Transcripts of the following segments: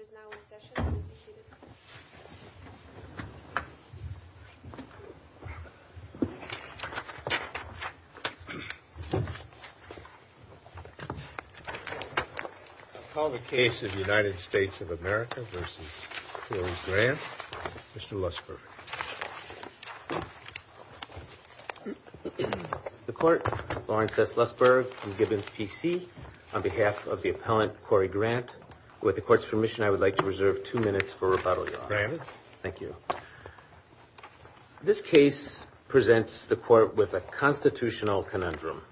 I call the case of United States of America v. Corey Grant, Mr. Lussberg. The court, Lawrence S. Lussberg and Gibbons, PC, on behalf of the appellant, Corey Grant, with the court's permission, I would like to reserve two minutes for rebuttal, Your Honor. Granted. Thank you. This case presents the court with a constitutional conundrum.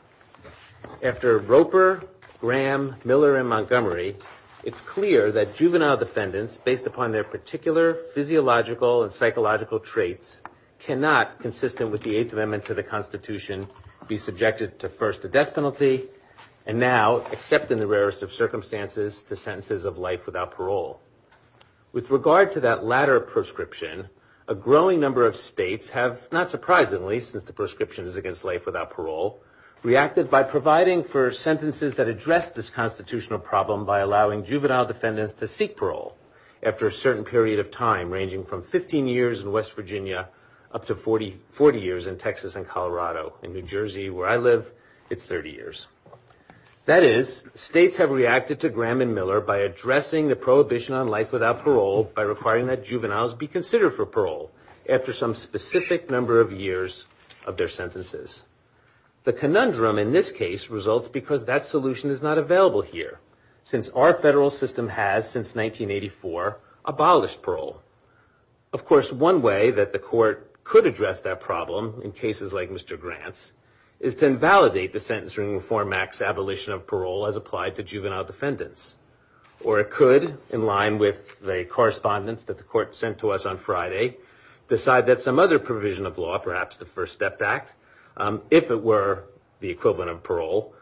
After Roper, Graham, Miller, and Montgomery, it's clear that juvenile defendants, based upon their particular physiological and psychological traits, cannot, consistent with the Eighth Amendment to the Constitution, be subjected to first a death penalty, and now, except in the rarest of circumstances, to sentences of life without parole. With regard to that latter proscription, a growing number of states have, not surprisingly since the proscription is against life without parole, reacted by providing for sentences that address this constitutional problem by allowing juvenile defendants to seek parole after a certain period of time, ranging from 15 years in West Virginia up to 40 years in Texas and Colorado. In New Jersey, where I live, it's 30 years. That is, states have reacted to Graham and Miller by addressing the prohibition on life without parole by requiring that juveniles be considered for parole after some specific number of years of their sentences. The conundrum in this case results because that solution is not available here. Since our federal system has, since 1984, abolished parole. Of course, one way that the court could address that problem in cases like Mr. Grant's is to invalidate the Sentencing Reform Act's abolition of parole as applied to juvenile defendants. Or it could, in line with the correspondence that the court sent to us on Friday, decide that some other provision of law, perhaps the First Step Act, if it were the equivalent of parole,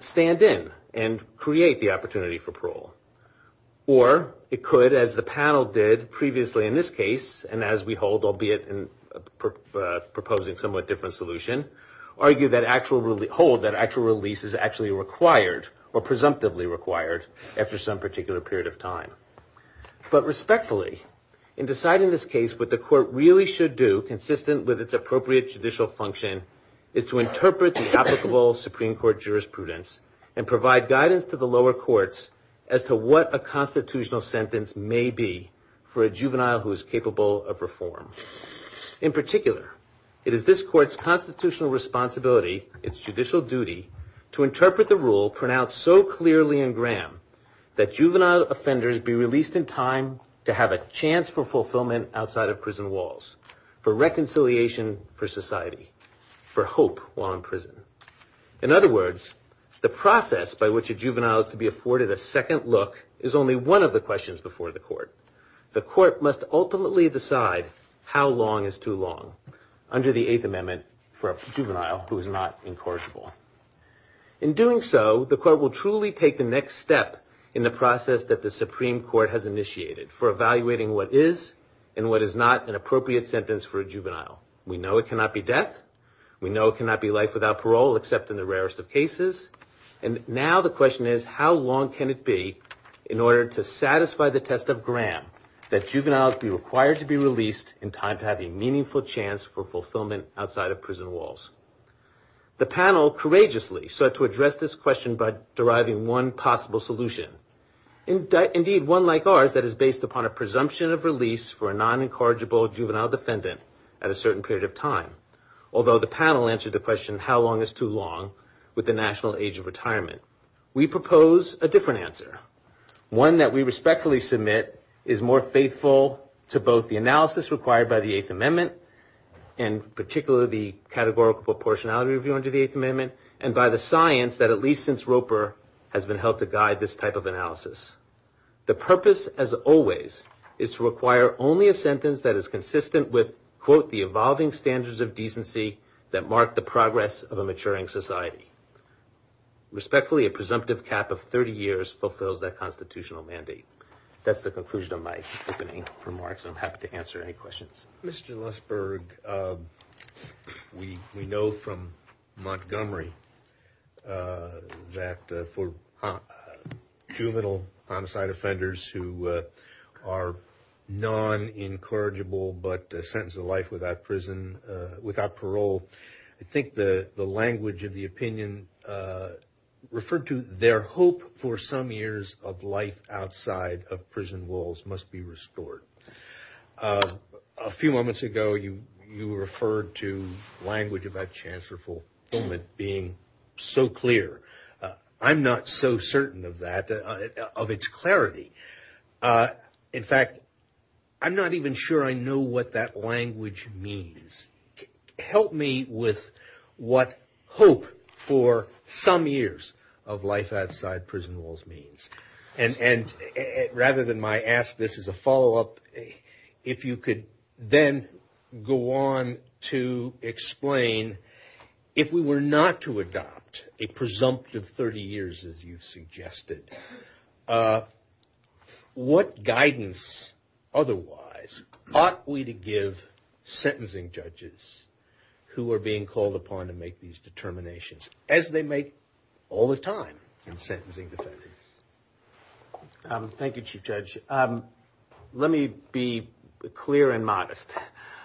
stand in and create the opportunity for parole. Or it could, as the panel did previously in this case, and as we hold, albeit in proposing somewhat different solution, argue that actual, hold that actual release is actually required or presumptively required after some particular period of time. But respectfully, in deciding this case, what the court really should do, consistent with its appropriate judicial function, is to interpret the applicable Supreme Court jurisprudence and provide guidance to the lower courts as to what a constitutional sentence may be for a juvenile who is capable of reform. In particular, it is this court's constitutional responsibility, its judicial duty, to interpret the rule pronounced so clearly in Graham that juvenile offenders be released in time to have a chance for fulfillment outside of prison walls, for reconciliation for society, for hope while in prison. In other words, the process by which a juvenile is to be afforded a second look is only one of the questions before the court. The court must ultimately decide how long is too long under the Eighth Amendment for a juvenile who is not incorrigible. In doing so, the court will truly take the next step in the process that the Supreme Court has initiated for evaluating what is and what is not an appropriate sentence for a juvenile. We know it cannot be death. We know it cannot be life without parole, except in the rarest of cases. And now the question is, how long can it be in order to satisfy the test of Graham that juveniles be required to be released in time to have a meaningful chance for fulfillment outside of prison walls? The panel courageously sought to address this question by deriving one possible solution. Indeed, one like ours that is based upon a presumption of release for a non-incorrigible juvenile defendant at a certain period of time, although the panel answered the question how long is too long with the national age of retirement? We propose a different answer, one that we respectfully submit is more faithful to both the analysis required by the Eighth Amendment, and particularly the categorical proportionality of the Eighth Amendment, and by the science that at least since Roper has been helped to guide this type of analysis. The purpose, as always, is to require only a sentence that is consistent with, quote, the evolving standards of decency that mark the progress of a maturing society. Respectfully, a presumptive cap of 30 years fulfills that constitutional mandate. That's the conclusion of my opening remarks, I'm happy to answer any questions. Mr. Lesberg, we know from Montgomery that for juvenile homicide offenders who are non-incorrigible but sentenced to life without parole, I think the language of the opinion referred to their hope for some years of life outside of prison walls must be restored. A few moments ago, you referred to language about chance for fulfillment being so clear. I'm not so certain of that, of its clarity. In fact, I'm not even sure I know what that language means. Help me with what hope for some years of life outside prison walls means. Rather than my ask, this is a follow-up, if you could then go on to explain if we were not to adopt a presumptive 30 years as you suggested, what guidance otherwise ought we to give sentencing judges who are being called upon to make these determinations, as they make all the time in sentencing defendants? Thank you, Chief Judge. Let me be clear and modest.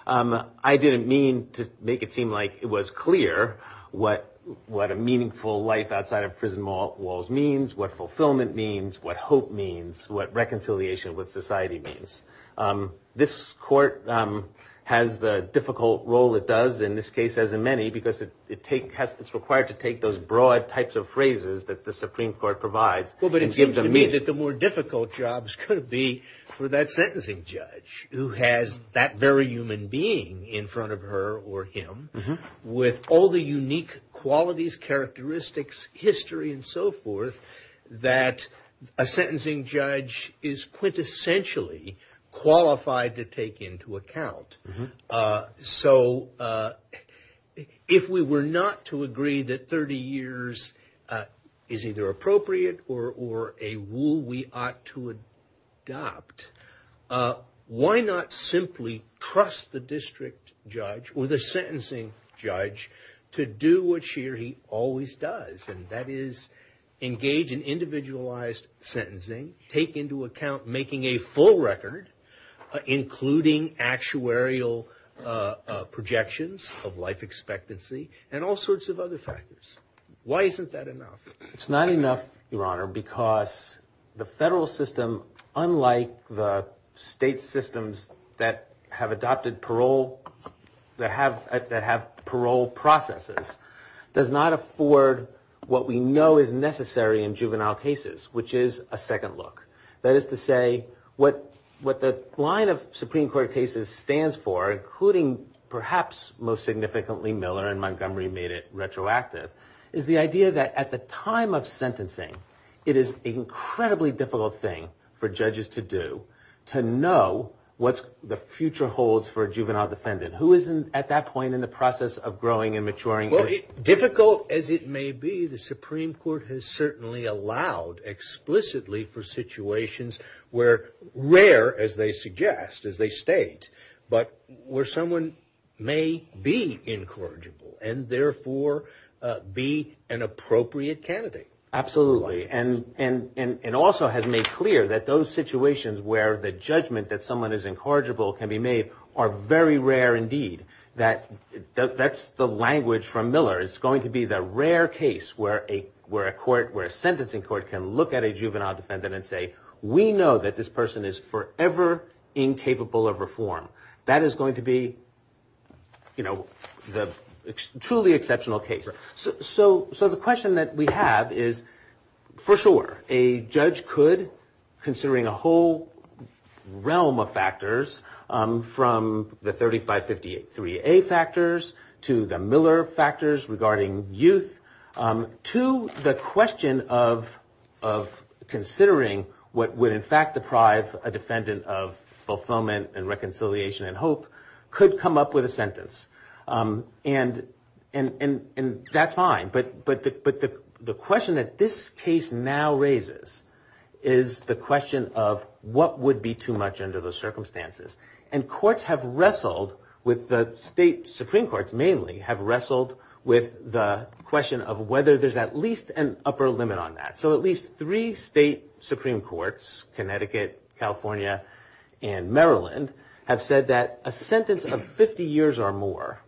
I didn't mean to make it seem like it was clear what a meaningful life outside of prison walls means, what fulfillment means, what hope means, what reconciliation with society means. This court has the difficult role it does in this case, as in many, because it's required to take those broad types of phrases that the Supreme Court provides and give them meaning. Well, but it seems to me that the more difficult jobs could be for that sentencing judge, who has that very human being in front of her or him, with all the unique qualities, characteristics, history, and so forth, that a sentencing judge is quintessentially qualified to take into account. So, if we were not to agree that 30 years is either appropriate or a rule we ought to adopt, why not simply trust the district judge or the sentencing judge to do what she or he always does, and that is engage in individualized sentencing, take into account making a full set of editorial projections of life expectancy, and all sorts of other factors. Why isn't that enough? It's not enough, Your Honor, because the federal system, unlike the state systems that have adopted parole, that have parole processes, does not afford what we know is necessary in juvenile cases, which is a second look. That is to say, what the line of Supreme Court cases stands for, including perhaps most significantly Miller and Montgomery made it retroactive, is the idea that at the time of sentencing, it is an incredibly difficult thing for judges to do, to know what the future holds for a juvenile defendant, who is at that point in the process of growing and maturing. Difficult as it may be, the Supreme Court has certainly allowed explicitly for situations where rare, as they suggest, as they state, but where someone may be incorrigible and therefore be an appropriate candidate. Absolutely, and also has made clear that those situations where the judgment that someone is incorrigible can be made are very rare indeed. That's the language from Miller. It's going to be the rare case where a court, where a sentencing court can look at a juvenile defendant and say, we know that this person is forever incapable of reform. That is going to be the truly exceptional case. So the question that we have is, for sure, a judge could, considering a whole realm of factors, from the 3558-3A factors to the Miller factors regarding youth, to the question of considering what would, in fact, deprive a defendant of fulfillment and reconciliation and hope, could come up with a sentence. And that's fine, but the question that this case now raises is the question of what would be too much under those circumstances. And courts have wrestled with the state, Supreme Courts mainly, have wrestled with the question of whether there's at least an upper limit on that. So at least three state Supreme Courts, Connecticut, California, and Maryland, have said that a sentence of 50 years or more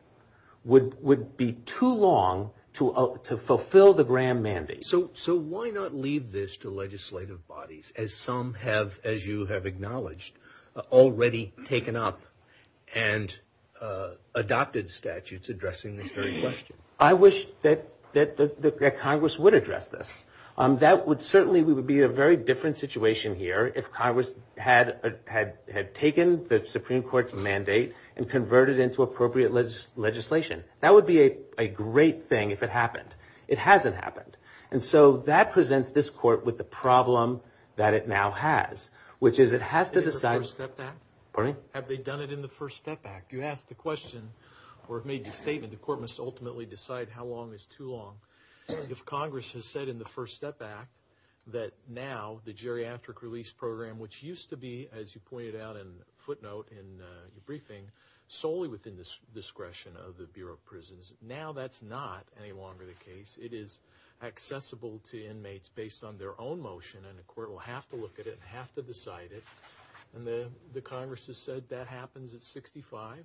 would be too long to fulfill the grand mandate. So why not leave this to legislative bodies, as some have, as you have acknowledged, already taken up and adopted statutes addressing this very question? I wish that Congress would address this. That would certainly be a very different situation here if Congress had taken the Supreme Court's mandate and converted it into appropriate legislation. That would be a great thing if it happened. It hasn't happened. And so that presents this court with the problem that it now has, which is it has to decide Have they done it in the First Step Act? You asked the question, or made the statement, the court must ultimately decide how long is too long. If Congress has said in the First Step Act that now the geriatric release program, which used to be, as you pointed out in footnote in your briefing, solely within the discretion of the Bureau of Prisons, now that's not any longer the case. It is accessible to inmates based on their own motion, and the court will have to look at it and have to decide it, and the Congress has said that happens at 65?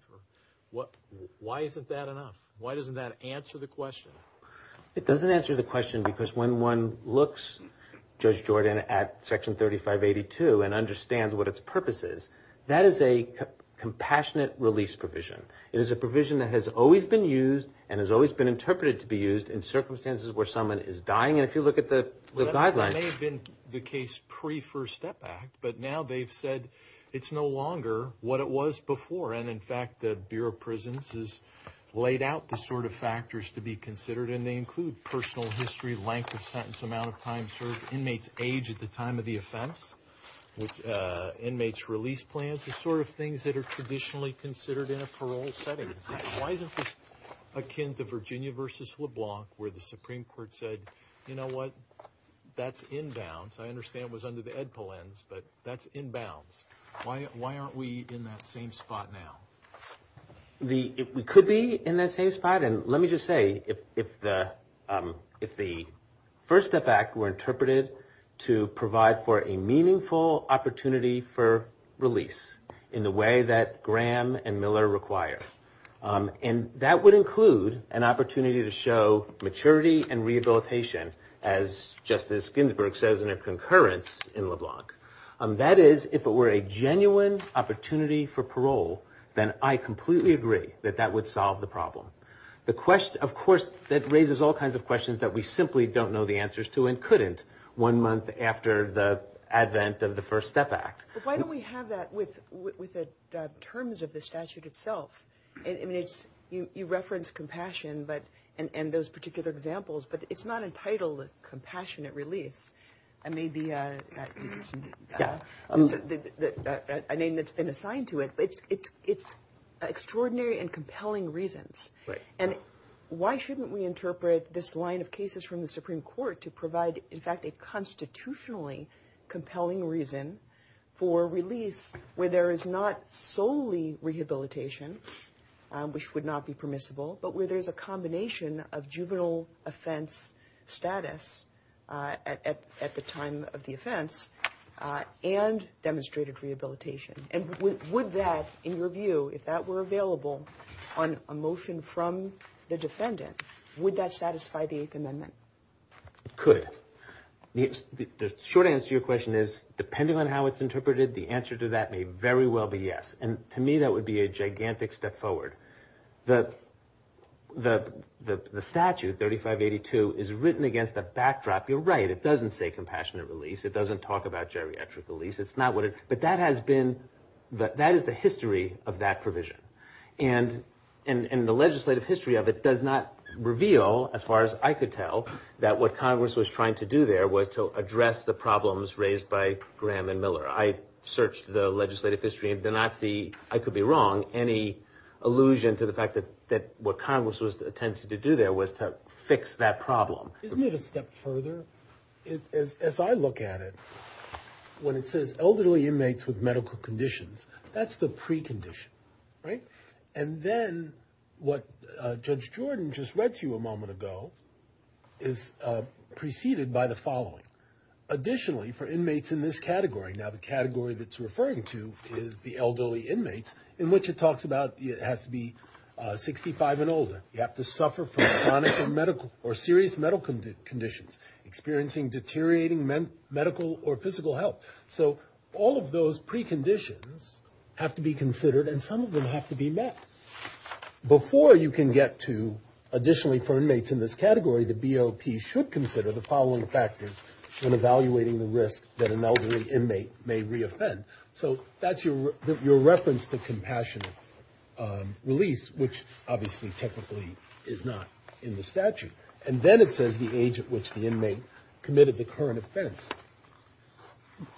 Why isn't that enough? Why doesn't that answer the question? It doesn't answer the question because when one looks, Judge Jordan, at Section 3582 and understands what its purpose is, that is a compassionate release provision. It is a provision that has always been used and has always been interpreted to be used in circumstances where someone is dying, and if you look at the guidelines Well, that may have been the case pre-First Step Act, but now they've said it's no longer what it was before, and in fact the Bureau of Prisons has laid out the sort of factors to be considered, and they include personal history, length of sentence, amount of time served, inmates' age at the time of the offense, inmates' release plans, the sort of things that are traditionally considered in a parole setting. Why isn't this akin to Virginia v. LeBlanc, where the Supreme Court said, you know what? That's in bounds. I understand it was under the Edpolins, but that's in bounds. Why aren't we in that same spot now? We could be in that same spot, and let me just say, if the First Step Act were interpreted to provide for a meaningful opportunity for release in the way that Graham and Miller require, and that would include an opportunity to show maturity and rehabilitation, as Justice Ginsburg says in her concurrence in LeBlanc. That is, if it were a genuine opportunity for parole, then I completely agree that that would solve the problem. The question, of course, that raises all kinds of questions that we simply don't know the one month after the advent of the First Step Act. But why don't we have that with the terms of the statute itself? You reference compassion and those particular examples, but it's not entitled Compassionate Release. It may be a name that's been assigned to it. It's extraordinary and compelling reasons. And why shouldn't we interpret this line of cases from the Supreme Court to provide, in a constitutionally compelling reason, for release where there is not solely rehabilitation, which would not be permissible, but where there's a combination of juvenile offense status at the time of the offense and demonstrated rehabilitation? And would that, in your view, if that were available on a motion from the defendant, would that satisfy the Eighth Amendment? It could. The short answer to your question is, depending on how it's interpreted, the answer to that may very well be yes. And to me, that would be a gigantic step forward. The statute, 3582, is written against a backdrop. You're right. It doesn't say Compassionate Release. It doesn't talk about geriatric release. It's not what it... But that is the history of that provision. And the legislative history of it does not reveal, as far as I could tell, that what Congress was trying to do there was to address the problems raised by Graham and Miller. I searched the legislative history, and did not see, I could be wrong, any allusion to the fact that what Congress was attempting to do there was to fix that problem. Isn't it a step further? As I look at it, when it says elderly inmates with medical conditions, that's the precondition, right? And then, what Judge Jordan just read to you a moment ago is preceded by the following. Additionally, for inmates in this category, now the category that it's referring to is the elderly inmates, in which it talks about, it has to be 65 and older, you have to suffer from chronic or medical, or serious medical conditions, experiencing deteriorating medical or physical health. So all of those preconditions have to be considered, and some of them have to be met. Before you can get to, additionally for inmates in this category, the BOP should consider the following factors when evaluating the risk that an elderly inmate may re-offend. So that's your reference to compassionate release, which obviously, technically, is not in the statute. And then it says the age at which the inmate committed the current offense.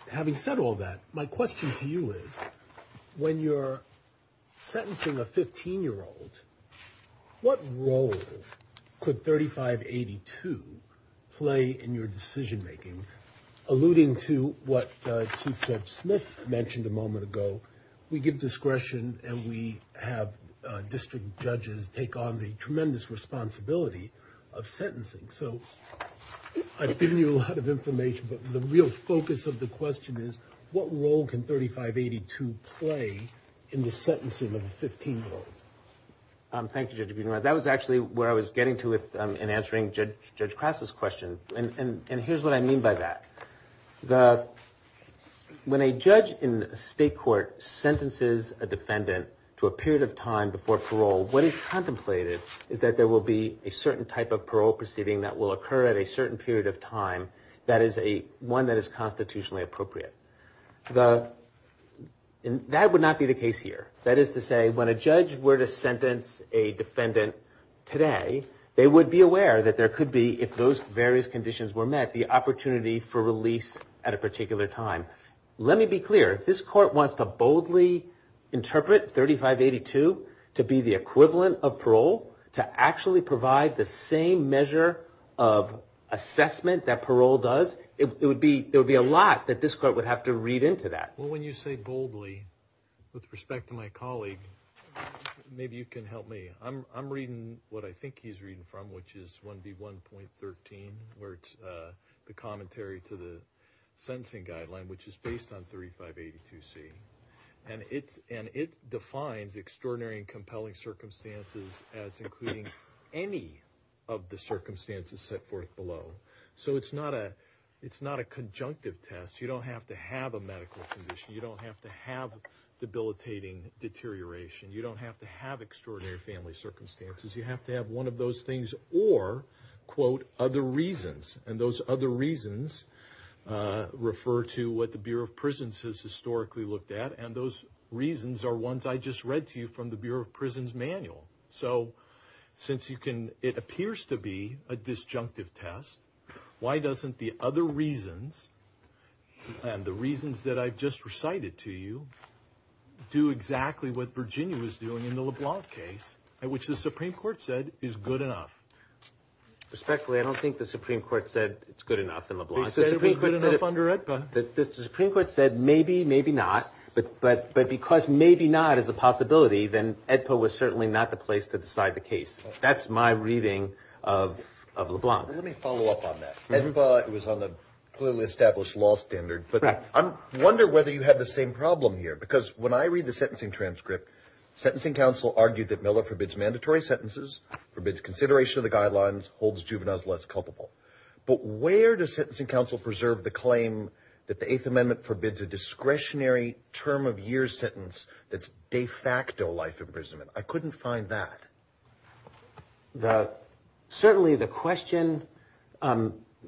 Having said all that, my question to you is, when you're sentencing a 15-year-old, what role could 3582 play in your decision making? Alluding to what Chief Judge Smith mentioned a moment ago, we give discretion and we have a tremendous responsibility of sentencing. So I've given you a lot of information, but the real focus of the question is, what role can 3582 play in the sentencing of a 15-year-old? Thank you, Judge. That was actually where I was getting to in answering Judge Crass's question. And here's what I mean by that. When a judge in a state court sentences a defendant to a period of time before parole, what is contemplated is that there will be a certain type of parole proceeding that will occur at a certain period of time that is one that is constitutionally appropriate. That would not be the case here. That is to say, when a judge were to sentence a defendant today, they would be aware that there could be, if those various conditions were met, the opportunity for release at a particular time. Let me be clear. If this court wants to boldly interpret 3582 to be the equivalent of parole, to actually provide the same measure of assessment that parole does, there would be a lot that this court would have to read into that. Well, when you say boldly, with respect to my colleague, maybe you can help me. I'm reading what I think he's reading from, which is 1B1.13, where it's the commentary to the sentencing guideline, which is based on 3582C. It defines extraordinary and compelling circumstances as including any of the circumstances set forth below. It's not a conjunctive test. You don't have to have a medical condition. You don't have to have debilitating deterioration. You don't have to have extraordinary family circumstances. You have to have one of those things or, quote, other reasons. And those other reasons refer to what the Bureau of Prisons has historically looked at. And those reasons are ones I just read to you from the Bureau of Prisons manual. So since it appears to be a disjunctive test, why doesn't the other reasons and the reasons that I've just recited to you do exactly what Virginia was doing in the LeBlanc case, which the Supreme Court said is good enough? Respectfully, I don't think the Supreme Court said it's good enough in LeBlanc. They said it was good enough under AEDPA. The Supreme Court said, maybe, maybe not. But because maybe not is a possibility, then AEDPA was certainly not the place to decide the case. That's my reading of LeBlanc. Let me follow up on that. It was on the clearly established law standard, but I wonder whether you had the same problem here. Because when I read the sentencing transcript, sentencing counsel argued that Miller forbids mandatory sentences, forbids consideration of the guidelines, holds juveniles less culpable. But where does sentencing counsel preserve the claim that the Eighth Amendment forbids a discretionary term of year sentence that's de facto life imprisonment? I couldn't find that. Certainly the question,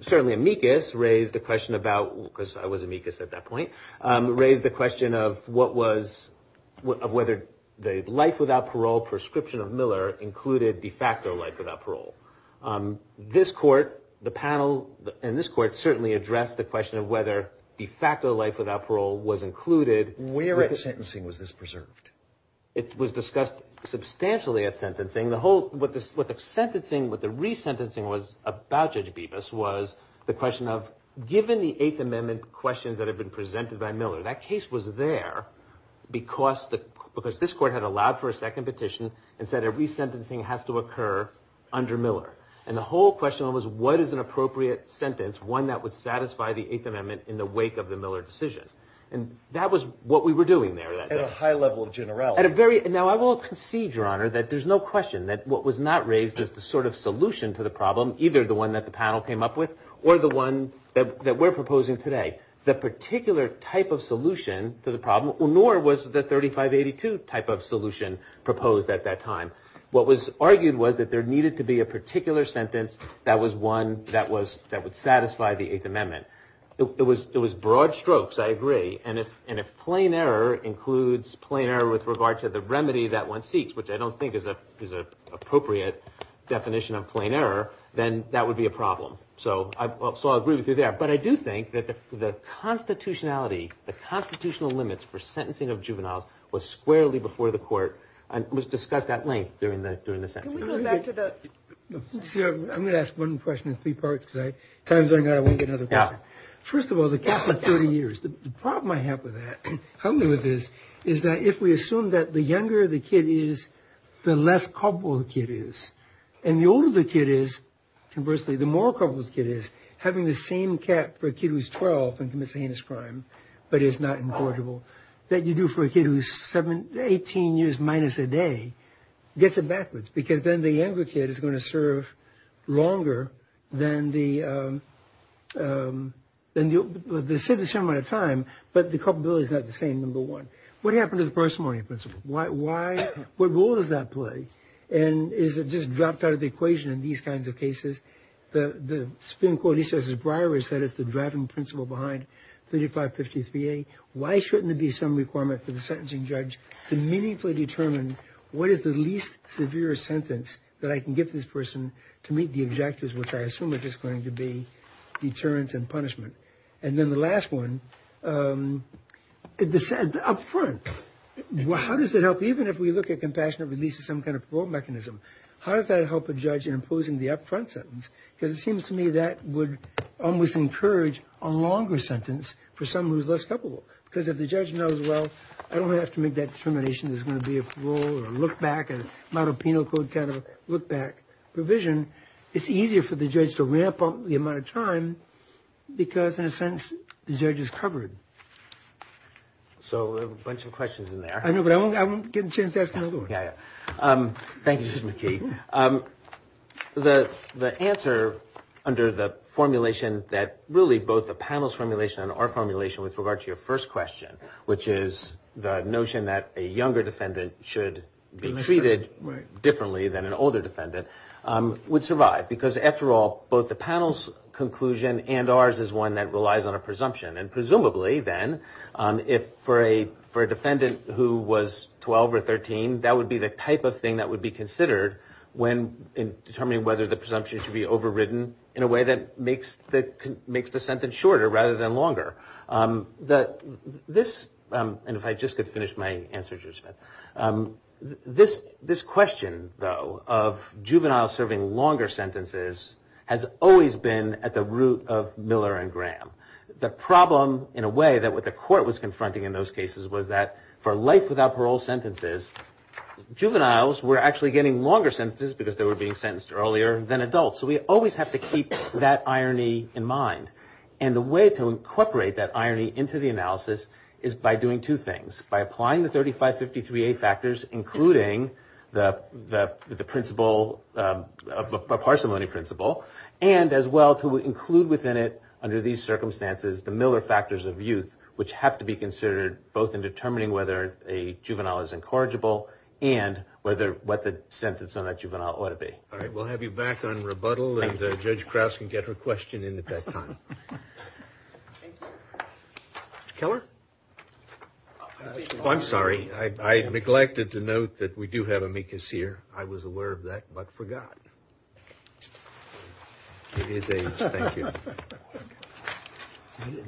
certainly amicus raised the question about, because I was amicus at that point, raised the question of what was, of whether the life without parole prescription of Miller included de facto life without parole. This court, the panel, and this court certainly addressed the question of whether de facto life without parole was included. Where at sentencing was this preserved? It was discussed substantially at sentencing. The whole, what the sentencing, what the resentencing was about, Judge Bibas, was the question of given the Eighth Amendment questions that have been presented by Miller, that case was there because this court had allowed for a second petition and said every sentencing has to occur under Miller. And the whole question was, what is an appropriate sentence, one that would satisfy the Eighth Amendment in the wake of the Miller decision? And that was what we were doing there. At a high level of generality. At a very, now I will concede, Your Honor, that there's no question that what was not raised as the sort of solution to the problem, either the one that the panel came up with or the one that we're proposing today, the particular type of solution to the problem, nor was the 3582 type of solution proposed at that time. What was argued was that there needed to be a particular sentence that was one that would satisfy the Eighth Amendment. It was broad strokes, I agree. And if plain error includes plain error with regard to the remedy that one seeks, which I don't think is an appropriate definition of plain error, then that would be a problem. So I agree with you there. But I do think that the constitutionality, the constitutional limits for sentencing of juveniles was squarely before the court and was discussed at length during the sentencing. Can we go back to the... I'm going to ask one question in three parts, because time's running out, I won't get another question. Yeah. First of all, the Catholic 30 years, the problem I have with that, is that if we assume that the younger the kid is, the less culpable the kid is. And the older the kid is, conversely, the more culpable the kid is. Having the same cap for a kid who's 12 and commits a heinous crime, but is not incorrigible, that you do for a kid who's 18 years minus a day, gets it backwards. Because then the younger kid is going to serve longer than the... They serve the same amount of time, but the culpability is not the same, number one. What happened to the personality principle? What role does that play? And is it just dropped out of the equation in these kinds of cases? The Supreme Court, he says, as Breyer said, it's the driving principle behind 3553A. Why shouldn't there be some requirement for the sentencing judge to meaningfully determine what is the least severe sentence that I can give this person to meet the objectives, which I assume are just going to be deterrence and punishment? And then the last one, up front, how does it help, even if we look at compassionate release as some kind of parole mechanism, how does that help a judge in imposing the up front sentence? Because it seems to me that would almost encourage a longer sentence for someone who's less culpable. Because if the judge knows, well, I don't have to make that determination, there's going to be a parole or a look back, a model penal code kind of look back provision, it's easier for the judge to ramp up the amount of time because, in a sense, the judge is covered. So a bunch of questions in there. I know, but I won't get a chance to ask another one. Thank you, Judge McKee. The answer under the formulation that really both the panel's formulation and our formulation with regard to your first question, which is the notion that a younger defendant should be treated differently than an older defendant, would survive. Because after all, both the panel's conclusion and ours is one that relies on a presumption. And presumably, then, if for a defendant who was 12 or 13, that would be the type of thing that would be considered when determining whether the presumption should be overridden in a way that makes the sentence shorter rather than longer. This, and if I just could finish my answer, Judge Smith, this question, though, of juveniles serving longer sentences has always been at the root of Miller and Graham. The problem, in a way, that what the court was confronting in those cases was that for life without parole sentences, juveniles were actually getting longer sentences because they were being sentenced earlier than adults. So we always have to keep that irony in mind. And the way to incorporate that irony into the analysis is by doing two things. By applying the 3553A factors, including the parsimony principle, and as well to include within it, under these circumstances, the Miller factors of youth, which have to be considered both in determining whether a juvenile is incorrigible and what the sentence on that juvenile ought to be. All right. We'll have you back on rebuttal. And Judge Krauss can get her question in at that time. Keller? Oh, I'm sorry. I neglected to note that we do have amicus here. I was aware of that, but forgot. He is aged. Thank you.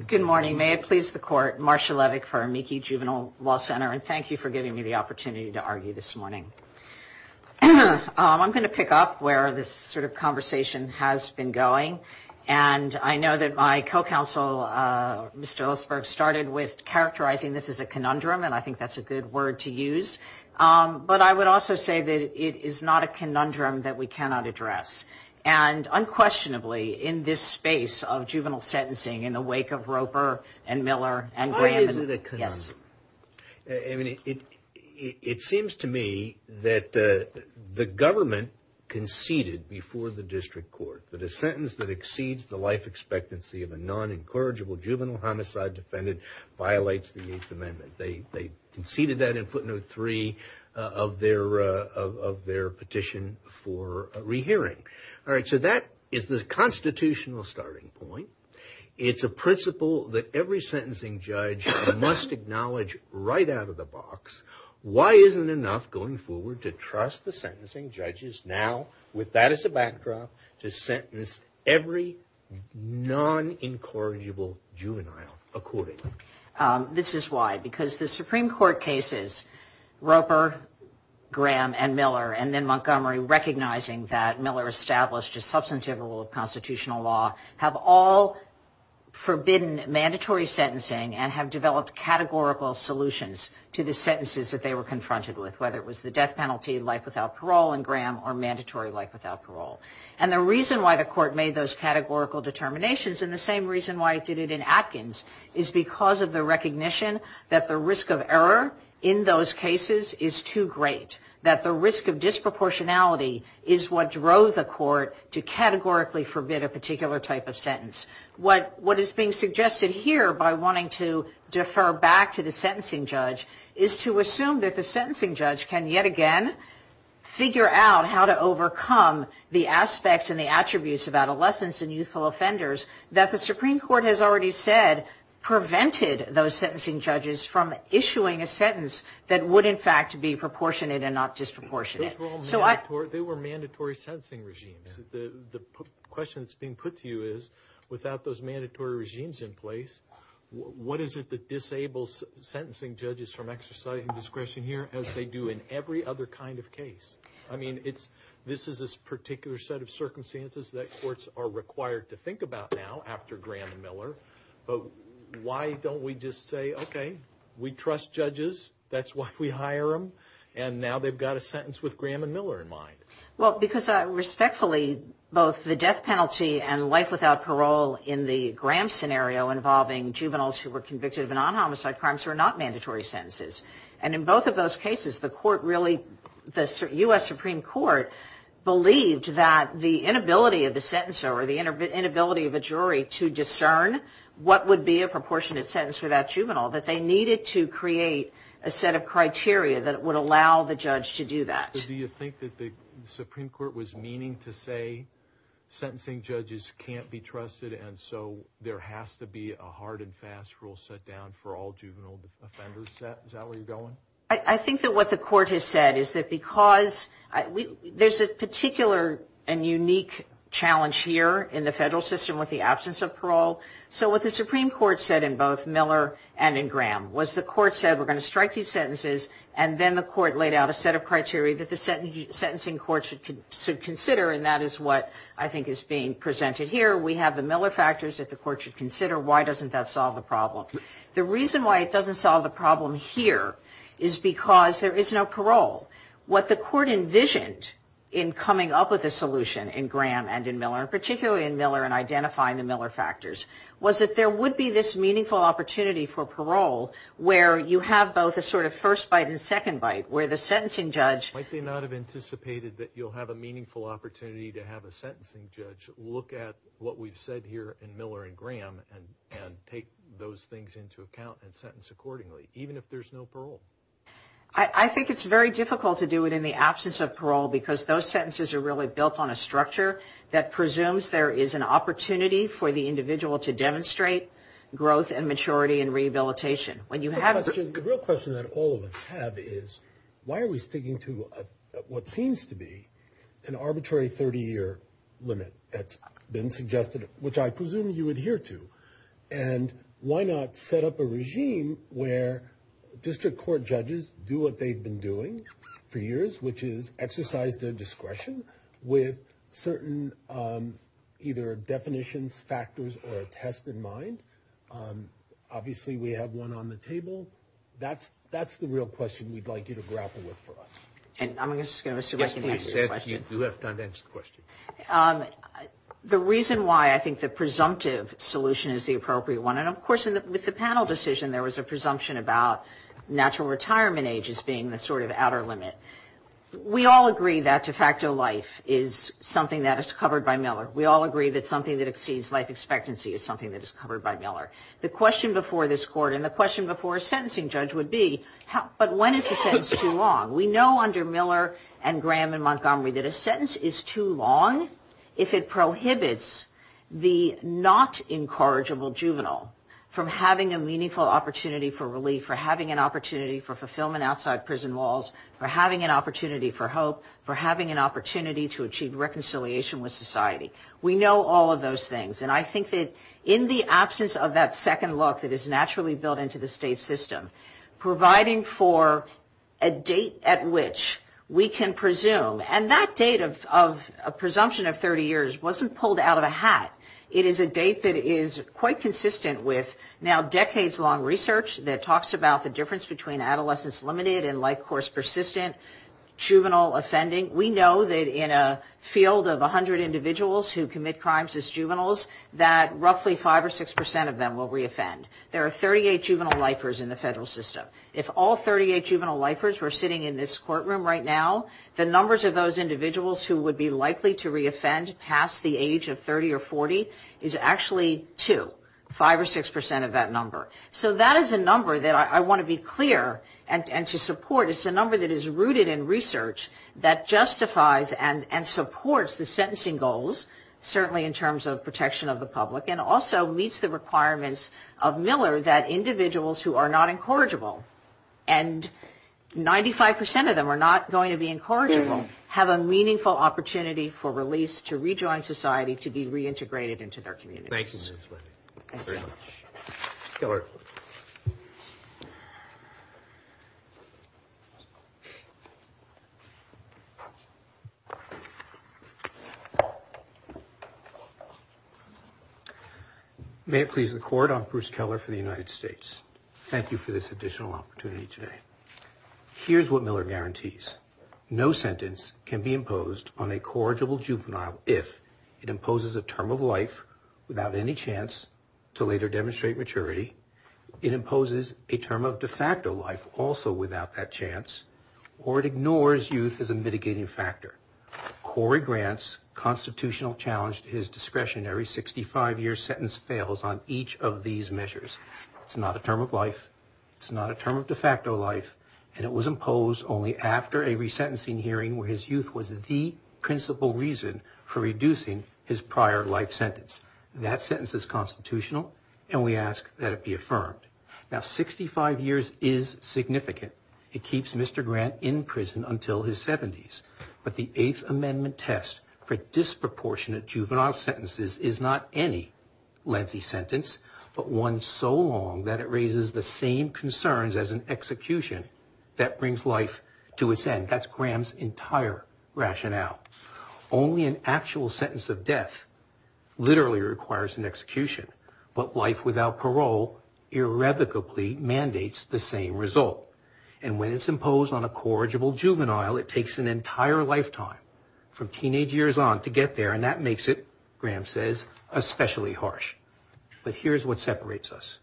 Good morning. May it please the court. Marcia Levick for Amici Juvenile Law Center. And thank you for giving me the opportunity to argue this morning. I'm going to pick up where this sort of conversation has been going. And I know that my co-counsel, Mr. Hillsburg, started with characterizing this as a conundrum. And I think that's a good word to use. It's a conundrum that we can't argue. It's a conundrum that we can't argue. And unquestionably, in this space of juvenile sentencing, in the wake of Roper and Miller and Graham. Why is it a conundrum? Yes. I mean, it seems to me that the government conceded before the district court that a sentence that exceeds the life expectancy of a non-encourageable juvenile homicide defendant violates the Eighth Amendment. They conceded that in footnote three of their petition for rehearing. All right. So that is the constitutional starting point. It's a principle that every sentencing judge must acknowledge right out of the box. Why isn't enough going forward to trust the sentencing judges now, with that as a backdrop, to sentence every non-encourageable juvenile accordingly? This is why. Because the Supreme Court cases, Roper, Graham, and Miller, and then Montgomery, recognizing that Miller established a substantive rule of constitutional law, have all forbidden mandatory sentencing and have developed categorical solutions to the sentences that they were confronted with, whether it was the death penalty, life without parole in Graham, or mandatory life without parole. And the reason why the court made those categorical determinations, and the same reason why it recognition that the risk of error in those cases is too great. That the risk of disproportionality is what drove the court to categorically forbid a particular type of sentence. What is being suggested here by wanting to defer back to the sentencing judge is to assume that the sentencing judge can yet again figure out how to overcome the aspects and the those sentencing judges from issuing a sentence that would, in fact, be proportionate and not disproportionate. Those were all mandatory. They were mandatory sentencing regimes. The question that's being put to you is, without those mandatory regimes in place, what is it that disables sentencing judges from exercising discretion here as they do in every other kind of case? I mean, this is a particular set of circumstances that courts are required to think about now after Graham and Miller. But why don't we just say, okay, we trust judges. That's why we hire them. And now they've got a sentence with Graham and Miller in mind. Well, because respectfully, both the death penalty and life without parole in the Graham scenario involving juveniles who were convicted of non-homicide crimes were not mandatory sentences. And in both of those cases, the court really, the U.S. Supreme Court, believed that the what would be a proportionate sentence for that juvenile, that they needed to create a set of criteria that would allow the judge to do that. Do you think that the Supreme Court was meaning to say sentencing judges can't be trusted and so there has to be a hard and fast rule set down for all juvenile offenders? Is that where you're going? I think that what the court has said is that because there's a particular and unique challenge here in the federal system with the absence of parole, so what the Supreme Court said in both Miller and in Graham was the court said we're going to strike these sentences and then the court laid out a set of criteria that the sentencing court should consider and that is what I think is being presented here. We have the Miller factors that the court should consider. Why doesn't that solve the problem? The reason why it doesn't solve the problem here is because there is no parole. What the court envisioned in coming up with a solution in Graham and in Miller, particularly in Miller and identifying the Miller factors, was that there would be this meaningful opportunity for parole where you have both a sort of first bite and second bite where the sentencing judge Might they not have anticipated that you'll have a meaningful opportunity to have a sentencing judge look at what we've said here in Miller and Graham and take those things into account and sentence accordingly, even if there's no parole? I think it's very difficult to do it in the absence of parole because those sentences are really built on a structure that presumes there is an opportunity for the individual to demonstrate growth and maturity and rehabilitation. The real question that all of us have is why are we sticking to what seems to be an arbitrary 30-year limit that's been suggested, which I presume you adhere to, and why not set up a regime where district court judges do what they've been doing for years, which is exercise their discretion with certain either definitions, factors, or a test in mind? Obviously, we have one on the table. That's the real question we'd like you to grapple with for us. And I'm just going to assume I can answer your question. Yes, please. You do have time to answer the question. The reason why I think the presumptive solution is the appropriate one, and of course with the panel decision there was a presumption about natural retirement age as being the sort of outer limit. We all agree that de facto life is something that is covered by Miller. We all agree that something that exceeds life expectancy is something that is covered by Miller. The question before this court and the question before a sentencing judge would be, but when is the sentence too long? We know under Miller and Graham and Montgomery that a sentence is too long if it prohibits the not incorrigible juvenile from having a meaningful opportunity for relief, for having an opportunity for fulfillment outside prison walls, for having an opportunity for hope, for having an opportunity to achieve reconciliation with society. We know all of those things. And I think that in the absence of that second look that is naturally built into the state system, providing for a date at which we can presume, and that date of presumption of 30 years wasn't pulled out of a hat. It is a date that is quite consistent with now decades-long research that talks about the difference between adolescence-limited and life-course-persistent juvenile offending. We know that in a field of 100 individuals who commit crimes as juveniles that roughly 5 or 6 percent of them will reoffend. There are 38 juvenile lifers in the federal system. If all 38 juvenile lifers were sitting in this courtroom right now, the numbers of those individuals who would be likely to reoffend past the age of 30 or 40 is actually 2, 5 or 6 percent of that number. So that is a number that I want to be clear and to support. It's a number that is rooted in research that justifies and supports the sentencing goals, certainly in terms of protection of the public, and also meets the requirements of Miller that individuals who are not incorrigible, and 95 percent of them are not going to be incorrigible, have a meaningful opportunity for release to rejoin society to be reintegrated into their communities. Thank you. May it please the Court, I'm Bruce Keller for the United States. Thank you for this additional opportunity today. Here's what Miller guarantees. No sentence can be imposed on a corrigible juvenile if it imposes a term of life without any chance to later demonstrate maturity, it imposes a term of de facto life also without that chance, or it ignores youth as a mitigating factor. Cory Grant's constitutional challenge to his discretionary 65-year sentence fails on each of these measures. It's not a term of life. And it was imposed only after a resentencing hearing where his youth was the principal reason for reducing his prior life sentence. That sentence is constitutional, and we ask that it be affirmed. Now, 65 years is significant. It keeps Mr. Grant in prison until his 70s. But the Eighth Amendment test for disproportionate juvenile sentences is not any lengthy sentence, but one so long that it raises the same concerns as an execution that brings life to its end. That's Graham's entire rationale. Only an actual sentence of death literally requires an execution. But life without parole irrevocably mandates the same result. And when it's imposed on a corrigible juvenile, it takes an entire lifetime from teenage years on to get there, and that makes it, Graham says, especially harsh. But here's what separates us.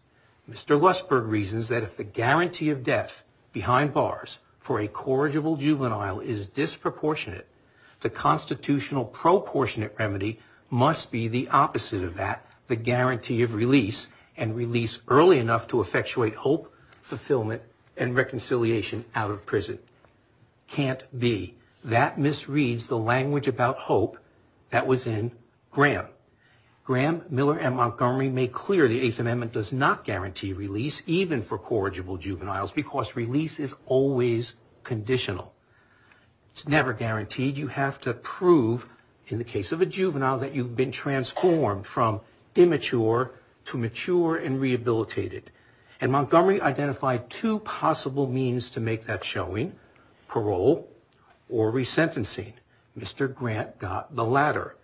Mr. Lussberg reasons that if the guarantee of death behind bars for a corrigible juvenile is disproportionate, the constitutional proportionate remedy must be the opposite of that, the guarantee of release and release early enough to effectuate hope, fulfillment, and reconciliation out of prison. Can't be. That misreads the language about hope that was in Graham. Graham, Miller, and Montgomery make clear the Eighth Amendment does not guarantee release even for corrigible juveniles because release is always conditional. It's never guaranteed. You have to prove, in the case of a juvenile, that you've been transformed from immature to mature and rehabilitated. And Montgomery identified two possible means to make that showing, parole or resentencing. Mr. Grant got the latter.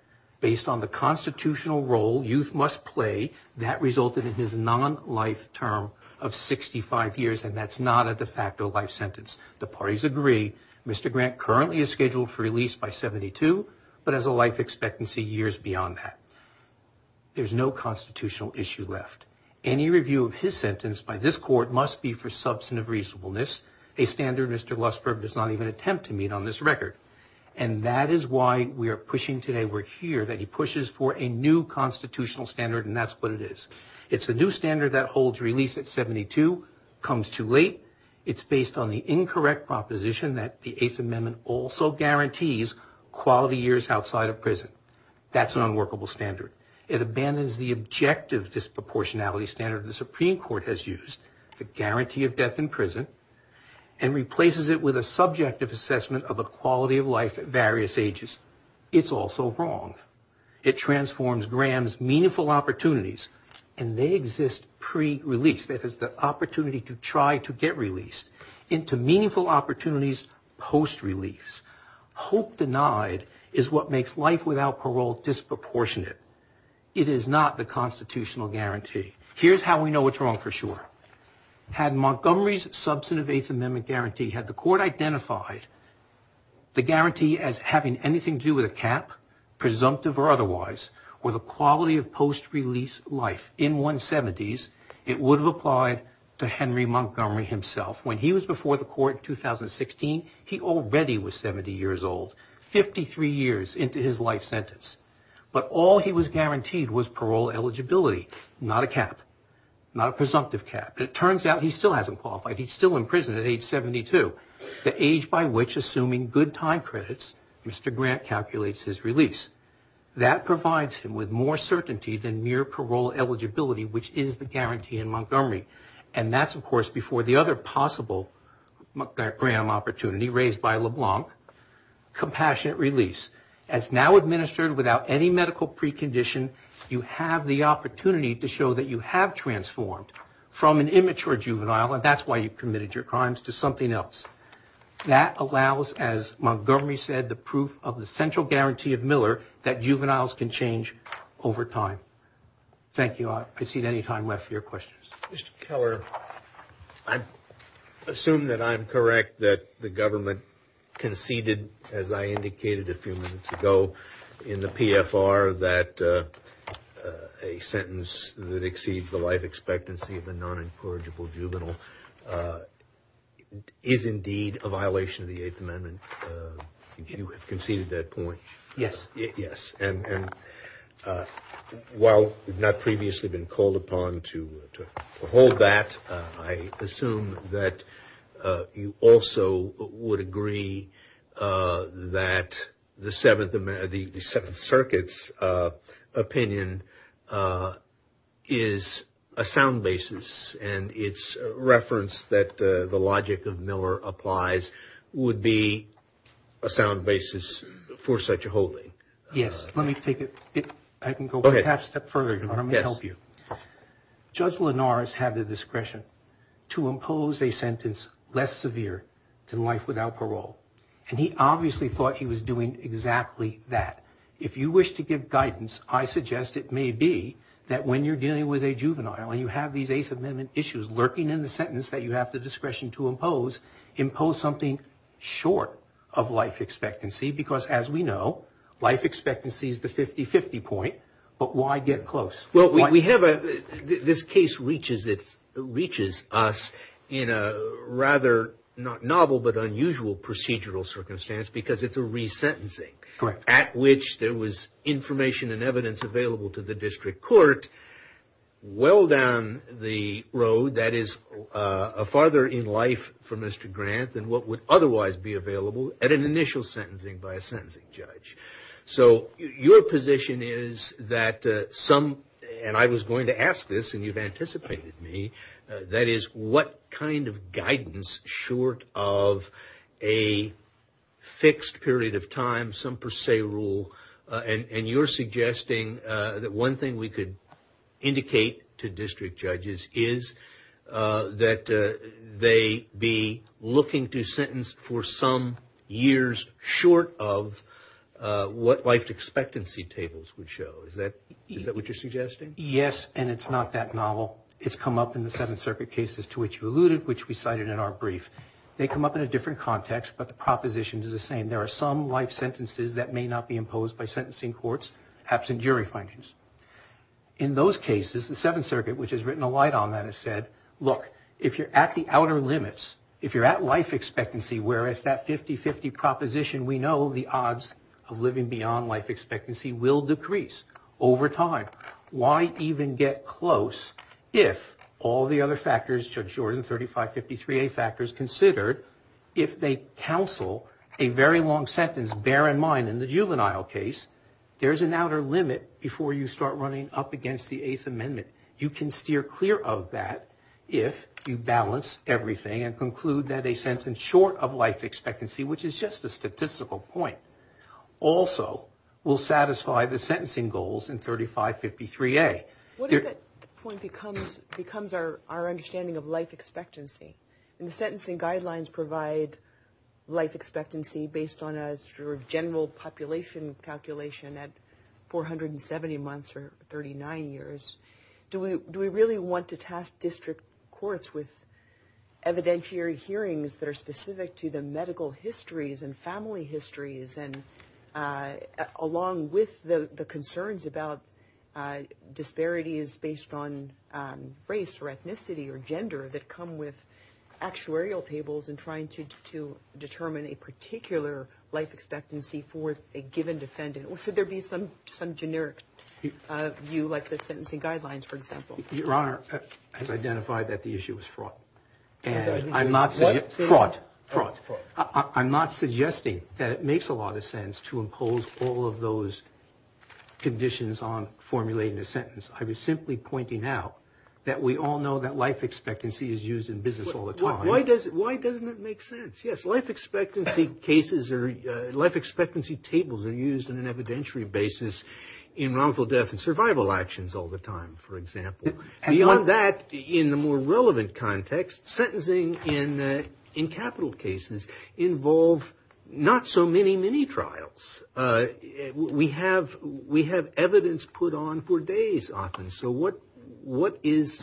Based on the constitutional role youth must play, that resulted in his non-life term of 65 years, and that's not a de facto life sentence. The parties agree. Mr. Grant currently is scheduled for release by 72 but has a life expectancy years beyond that. There's no constitutional issue left. Any review of his sentence by this court must be for substantive reasonableness, a standard Mr. Lussberg does not even attempt to meet on this record. And that is why we are pushing today, we're here, that he pushes for a new constitutional standard, and that's what it is. It's a new standard that holds release at 72, comes too late. It's based on the incorrect proposition that the Eighth Amendment also guarantees quality years outside of prison. That's an unworkable standard. It abandons the objective disproportionality standard the Supreme Court has used, the guarantee of death in prison, and replaces it with a subjective assessment of the quality of life at various ages. It's also wrong. It transforms Graham's meaningful opportunities, and they exist pre-release, that is the opportunity to try to get released, into meaningful opportunities post-release. Hope denied is what makes life without parole disproportionate. It is not the constitutional guarantee. Here's how we know it's wrong for sure. Had Montgomery's substantive Eighth Amendment guarantee, had the court identified the guarantee as having anything to do with a cap, presumptive or otherwise, or the quality of post-release life in 170s, it would have applied to Henry Montgomery himself. When he was before the court in 2016, he already was 70 years old, 53 years into his life sentence. But all he was guaranteed was parole eligibility, not a cap, not a presumptive cap. It turns out he still hasn't qualified. He's still in prison at age 72, the age by which, assuming good time credits, Mr. Grant calculates his release. That provides him with more certainty than mere parole eligibility, which is the guarantee in Montgomery. And that's, of course, before the other possible Graham opportunity raised by LeBlanc, compassionate release, as now administered without any medical precondition, you have the opportunity to show that you have transformed from an immature juvenile, and that's why you committed your crimes, to something else. That allows, as Montgomery said, the proof of the central guarantee of Miller that juveniles can change over time. Thank you. I'll proceed any time left for your questions. Mr. Keller, I assume that I'm correct that the government conceded, as I indicated a few minutes ago in the PFR, that a sentence that exceeds the life expectancy of a non-encourageable juvenile is indeed a violation of the Eighth Amendment. You have conceded that point. Yes. And while we've not previously been called upon to hold that, I assume that you also would agree that the Seventh Circuit's opinion is a sound basis, and its reference that the logic of Miller applies would be a sound basis for such a holding. Yes. Let me take it. I can go a half step further. Let me help you. Judge Linares had the discretion to impose a sentence less severe than life without parole, and he obviously thought he was doing exactly that. If you wish to give guidance, I suggest it may be that when you're dealing with a juvenile and you have these Eighth Amendment issues lurking in the sentence that you have the discretion to impose, impose something short of life expectancy because, as we know, life expectancy is the 50-50 point, but why get close? Well, this case reaches us in a rather not novel but unusual procedural circumstance because it's a resentencing. Correct. At which there was information and evidence available to the district court well down the road that is farther in life for Mr. Grant than what would otherwise be available at an initial sentencing by a sentencing judge. So your position is that some, and I was going to ask this and you've anticipated me, that is what kind of guidance short of a fixed period of time, some per se rule, and you're suggesting that one thing we could indicate to district judges is that they be looking to sentence for some years short of what life expectancy tables would show. Is that what you're suggesting? Yes, and it's not that novel. It's come up in the Seventh Circuit cases to which you alluded, which we cited in our brief. They come up in a different context, but the proposition is the same. There are some life sentences that may not be imposed by sentencing courts, perhaps in jury findings. In those cases, the Seventh Circuit, which has written a light on that, has said, look, if you're at the outer limits, if you're at life expectancy where it's that 50-50 proposition, we know the odds of living beyond life expectancy will decrease over time. Why even get close if all the other factors, Judge Jordan, 3553A factors considered, if they counsel a very long sentence, bear in mind in the juvenile case, there's an outer limit before you start running up against the Eighth Amendment. You can steer clear of that if you balance everything and conclude that a sentence short of life expectancy, which is just a statistical point, also will satisfy the sentencing goals in 3553A. What if that point becomes our understanding of life expectancy? And the sentencing guidelines provide life expectancy based on a general population calculation at 470 months or 39 years. Do we really want to task district courts with evidentiary hearings that are specific to the medical histories and family histories, along with the concerns about disparities based on race or ethnicity or gender that come with actuarial tables in trying to determine a particular life expectancy for a given defendant? Or should there be some generic view, like the sentencing guidelines, for example? Your Honor, I've identified that the issue is fraught. And I'm not saying it's fraught. I'm not suggesting that it makes a lot of sense to impose all of those conditions on formulating a sentence. I was simply pointing out that we all know that life expectancy is used in business all the time. Why doesn't it make sense? Yes, life expectancy cases or life expectancy tables are used on an evidentiary basis in wrongful death and survival actions all the time, for example. Beyond that, in the more relevant context, sentencing in capital cases involve not so many mini-trials. We have evidence put on for days often. So what is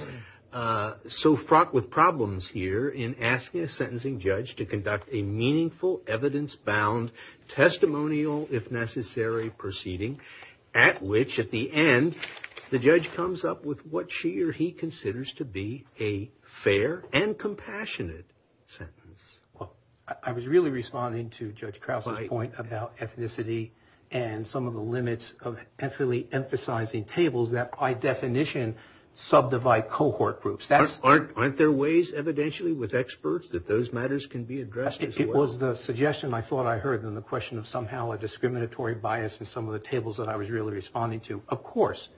so fraught with problems here in asking a sentencing judge to conduct a meaningful, evidence-bound, testimonial, if necessary, proceeding at which, at the end, the judge comes up with what she or he considers to be a fair and compassionate sentence? Well, I was really responding to Judge Krause's point about ethnicity and some of the limits of emphatically emphasizing tables that, by definition, subdivide cohort groups. Aren't there ways evidentially with experts that those matters can be addressed as well? It was the suggestion I thought I heard in the question of somehow a discriminatory bias in some of the tables that I was really responding to. Of course,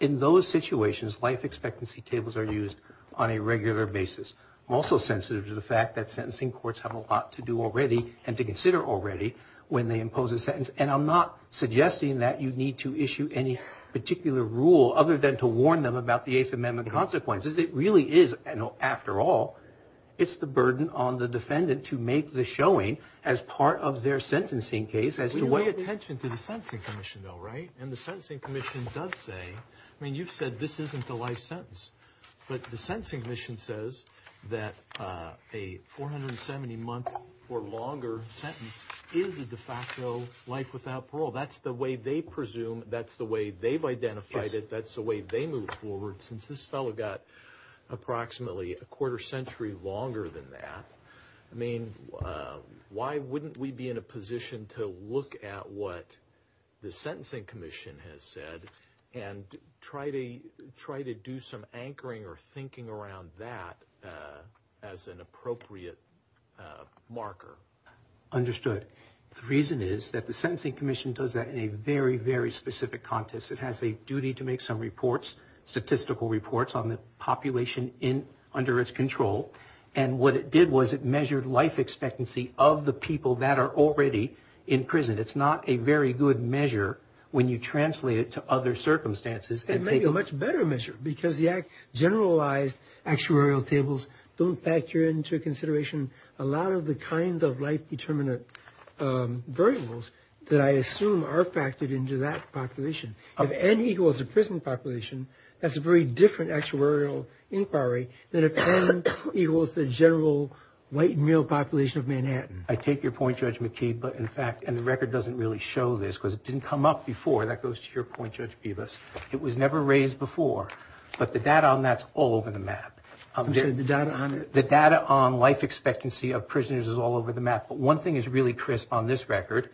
in those situations, life expectancy tables are used on a regular basis. I'm also sensitive to the fact that sentencing courts have a lot to do already and to consider already when they impose a sentence, and I'm not suggesting that you need to issue any particular rule other than to warn them about the Eighth Amendment consequences. It really is, after all, it's the burden on the defendant to make the showing as part of their sentencing case. We pay attention to the Sentencing Commission, though, right? And the Sentencing Commission does say, I mean, you've said this isn't a life sentence, but the Sentencing Commission says that a 470-month or longer sentence is a de facto life without parole. That's the way they presume. That's the way they've identified it. That's the way they move forward since this fellow got approximately a quarter century longer than that. I mean, why wouldn't we be in a position to look at what the Sentencing Commission has said and try to do some anchoring or thinking around that as an appropriate marker? Understood. The reason is that the Sentencing Commission does that in a very, very specific context. It has a duty to make some reports, statistical reports on the population under its control, and what it did was it measured life expectancy of the people that are already in prison. It's not a very good measure when you translate it to other circumstances. It may be a much better measure because the generalized actuarial tables don't factor into consideration a lot of the kinds of life-determinant variables that I assume are factored into that population. If N equals the prison population, that's a very different actuarial inquiry than if N equals the general white male population of Manhattan. I take your point, Judge McKee. But, in fact, and the record doesn't really show this because it didn't come up before. That goes to your point, Judge Bibas. It was never raised before, but the data on that's all over the map. The data on life expectancy of prisoners is all over the map, but one thing is really crisp on this record.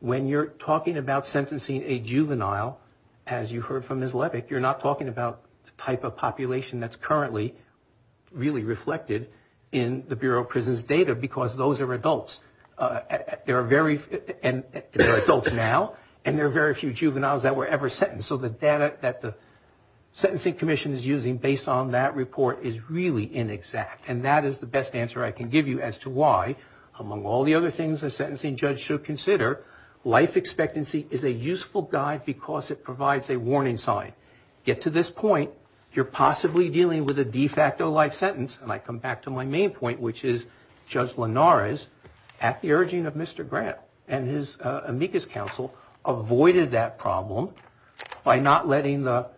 When you're talking about sentencing a juvenile, as you heard from Ms. Levick, you're not talking about the type of population that's currently really reflected in the Bureau of Prisons' data because those are adults. They're adults now, and there are very few juveniles that were ever sentenced. And so the data that the Sentencing Commission is using based on that report is really inexact, and that is the best answer I can give you as to why, among all the other things a sentencing judge should consider, life expectancy is a useful guide because it provides a warning sign. Get to this point, you're possibly dealing with a de facto life sentence, and I come back to my main point, which is Judge Linares, at the urging of Mr. Grant and his amicus counsel, avoided that problem by not letting the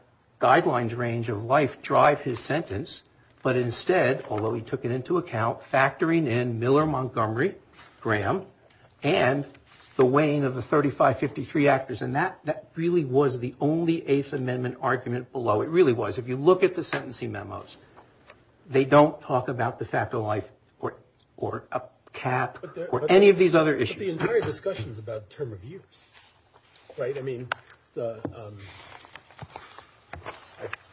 guidelines range of life drive his sentence, but instead, although he took it into account, factoring in Miller Montgomery, Graham, and the weighing of the 3553 actors, and that really was the only Eighth Amendment argument below. It really was. If you look at the sentencing memos, they don't talk about de facto life or a cap or any of these other issues. But the entire discussion is about term of years, right? I mean, I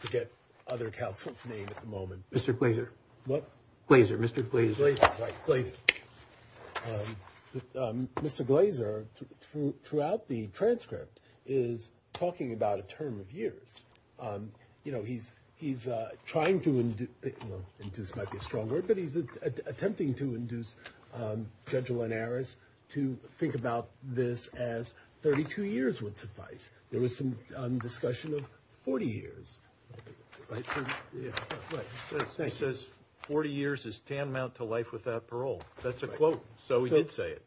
forget other counsel's name at the moment. Mr. Glazer. What? Glazer, Mr. Glazer. Glazer, right, Glazer. Mr. Glazer, throughout the transcript, is talking about a term of years. You know, he's trying to induce, might be a strong word, but he's attempting to induce Judge Linares to think about this as 32 years would suffice. There was some discussion of 40 years. He says 40 years is tantamount to life without parole. That's a quote, so he did say it.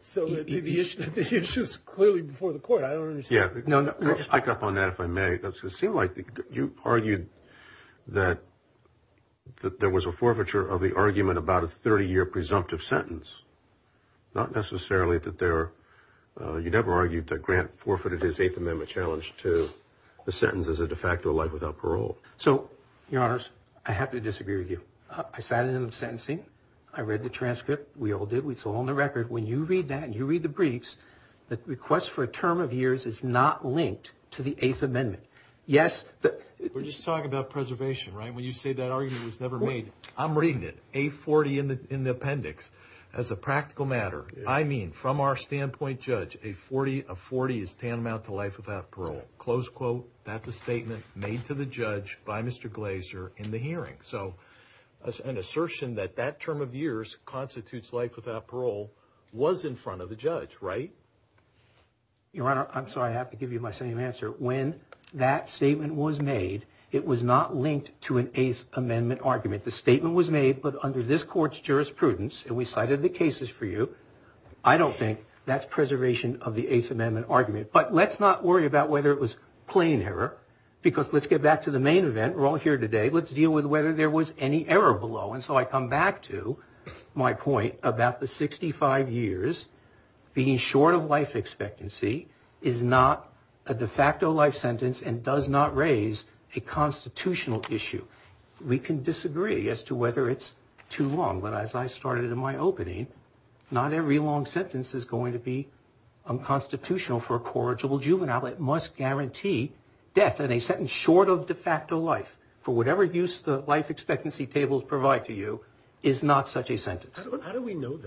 So the issue is clearly before the court. I don't understand. Yeah, I'll back up on that if I may. It seems like you argued that there was a forfeiture of the argument about a 30-year presumptive sentence, not necessarily that there are—you never argued that Grant forfeited his Eighth Amendment challenge to the sentence as a de facto life without parole. So, Your Honors, I have to disagree with you. I sat in on the sentencing. I read the transcript. We all did. We saw it on the record. When you read that and you read the briefs, the request for a term of years is not linked to the Eighth Amendment. Yes— We're just talking about preservation, right? When you say that argument was never made. I'm reading it. A40 in the appendix. As a practical matter, I mean from our standpoint, Judge, a 40 is tantamount to life without parole. Close quote. That's a statement made to the judge by Mr. Glazer in the hearing. So an assertion that that term of years constitutes life without parole was in front of the judge, right? Your Honor, I'm sorry. I have to give you my same answer. When that statement was made, it was not linked to an Eighth Amendment argument. The statement was made, but under this Court's jurisprudence, and we cited the cases for you, I don't think that's preservation of the Eighth Amendment argument. But let's not worry about whether it was plain error because let's get back to the main event. We're all here today. Let's deal with whether there was any error below. And so I come back to my point about the 65 years being short of life expectancy is not a de facto life sentence and does not raise a constitutional issue. We can disagree as to whether it's too long, but as I started in my opening, not every long sentence is going to be unconstitutional for a corrigible juvenile. It must guarantee death and a sentence short of de facto life for whatever use the life expectancy tables provide to you is not such a sentence. How do we know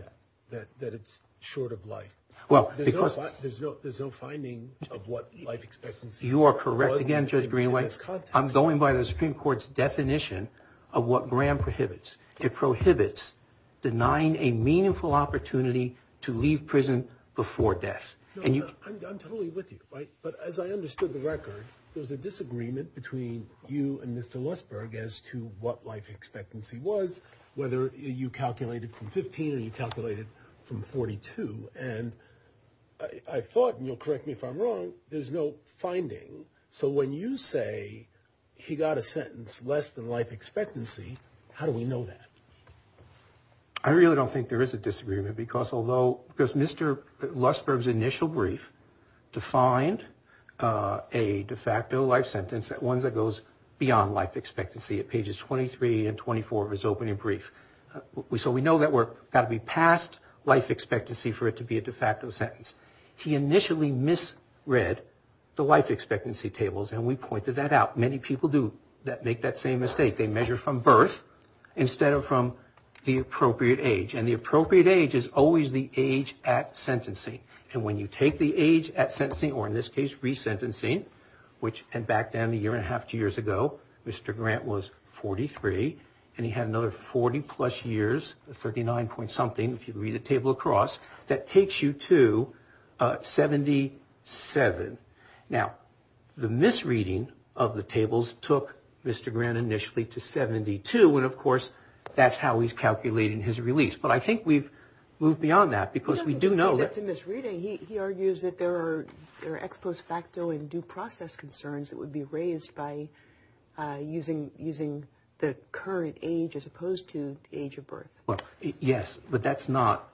that, that it's short of life? There's no finding of what life expectancy is. You are correct again, Judge Greenway. I'm going by the Supreme Court's definition of what Graham prohibits. It prohibits denying a meaningful opportunity to leave prison before death. I'm totally with you, right? But as I understood the record, there was a disagreement between you and Mr. Lustberg as to what life expectancy was, whether you calculated from 15 or you calculated from 42. And I thought, and you'll correct me if I'm wrong, there's no finding. So when you say he got a sentence less than life expectancy, how do we know that? I really don't think there is a disagreement because Mr. Lustberg's initial brief defined a de facto life sentence, one that goes beyond life expectancy at pages 23 and 24 of his opening brief. So we know that we've got to be past life expectancy for it to be a de facto sentence. He initially misread the life expectancy tables, and we pointed that out. Many people do make that same mistake. They measure from birth instead of from the appropriate age. And the appropriate age is always the age at sentencing. And when you take the age at sentencing, or in this case resentencing, which went back down a year and a half, two years ago, Mr. Grant was 43, and he had another 40-plus years, 39-point-something, if you read the table across, that takes you to 77. Now, the misreading of the tables took Mr. Grant initially to 72, and of course that's how he's calculating his release. But I think we've moved beyond that because we do know that – He doesn't say that's a misreading. He argues that there are ex post facto and due process concerns that would be raised by using the current age as opposed to the age of birth. Well, yes, but that's not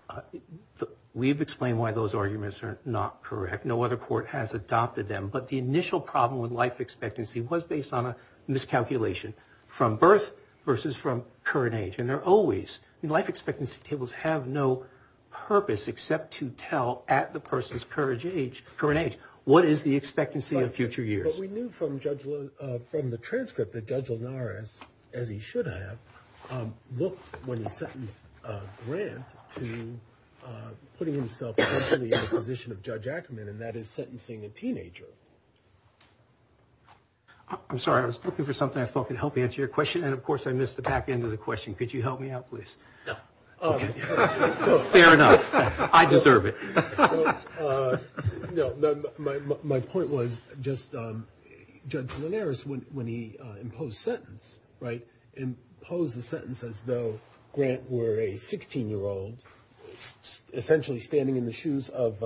– we've explained why those arguments are not correct. No other court has adopted them. But the initial problem with life expectancy was based on a miscalculation from birth versus from current age. And there are always – life expectancy tables have no purpose except to tell at the person's current age what is the expectancy of future years. But we knew from the transcript that Judge Linares, as he should have, looked when he sentenced Grant to putting himself potentially in the position of Judge Ackerman, and that is sentencing a teenager. I'm sorry. I was looking for something I thought could help answer your question, and of course I missed the back end of the question. Could you help me out, please? No. Okay. Fair enough. I deserve it. No, my point was just Judge Linares, when he imposed sentence, right, imposed the sentence as though Grant were a 16-year-old essentially standing in the shoes of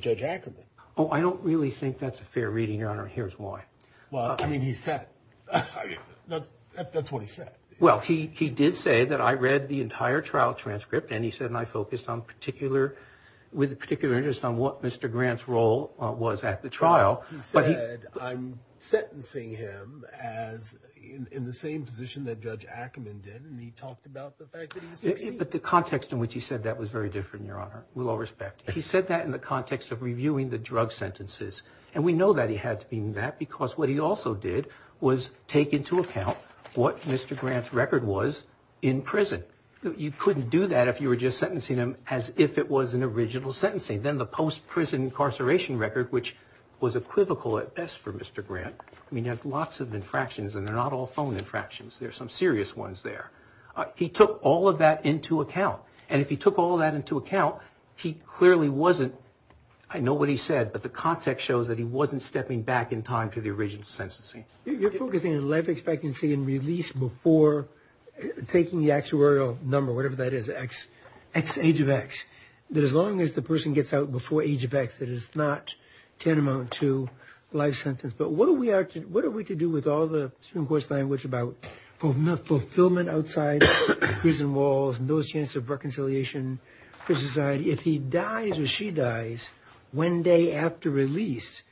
Judge Ackerman. Oh, I don't really think that's a fair reading, Your Honor, and here's why. Well, I mean, he said it. That's what he said. Well, he did say that I read the entire trial transcript, and he said I focused on particular – with a particular interest on what Mr. Grant's role was at the trial. Well, he said I'm sentencing him as – in the same position that Judge Ackerman did, and he talked about the fact that he was 16. But the context in which he said that was very different, Your Honor. We'll all respect it. He said that in the context of reviewing the drug sentences, and we know that he had to do that because what he also did was take into account what Mr. Grant's record was in prison. You couldn't do that if you were just sentencing him as if it was an original sentencing. Then the post-prison incarceration record, which was equivocal at best for Mr. Grant – I mean, he has lots of infractions, and they're not all phone infractions. There are some serious ones there. He took all of that into account, and if he took all of that into account, he clearly wasn't – I know what he said, but the context shows that he wasn't stepping back in time to the original sentencing. You're focusing on life expectancy and release before taking the actuarial number, whatever that is, age of X. That as long as the person gets out before age of X, that is not tantamount to life sentence. But what are we to do with all the Supreme Court's language about fulfillment outside prison walls and those chances of reconciliation for society? If he dies or she dies one day after release,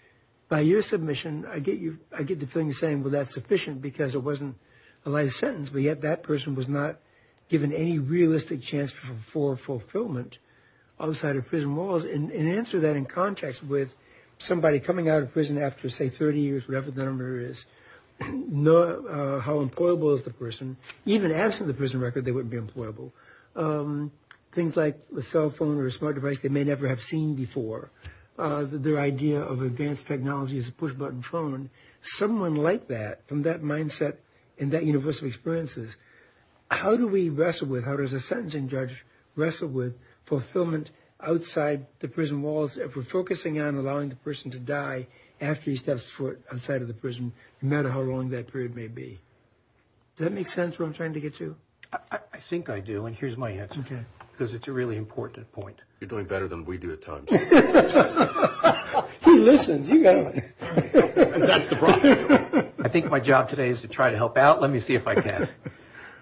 by your submission, I get the feeling of saying, well, that's sufficient because it wasn't a life sentence. But yet that person was not given any realistic chance for fulfillment outside of prison walls. And answer that in context with somebody coming out of prison after, say, 30 years, whatever the number is, how employable is the person? Even absent the prison record, they wouldn't be employable. Things like a cell phone or a smart device they may never have seen before, their idea of advanced technology as a push-button phone. Someone like that, from that mindset and that universal experience, how do we wrestle with, how does a sentencing judge wrestle with fulfillment outside the prison walls if we're focusing on allowing the person to die after he steps foot outside of the prison, no matter how long that period may be? Does that make sense where I'm trying to get to? I think I do, and here's my answer, because it's a really important point. He listens. You got him. That's the problem. I think my job today is to try to help out. Let me see if I can.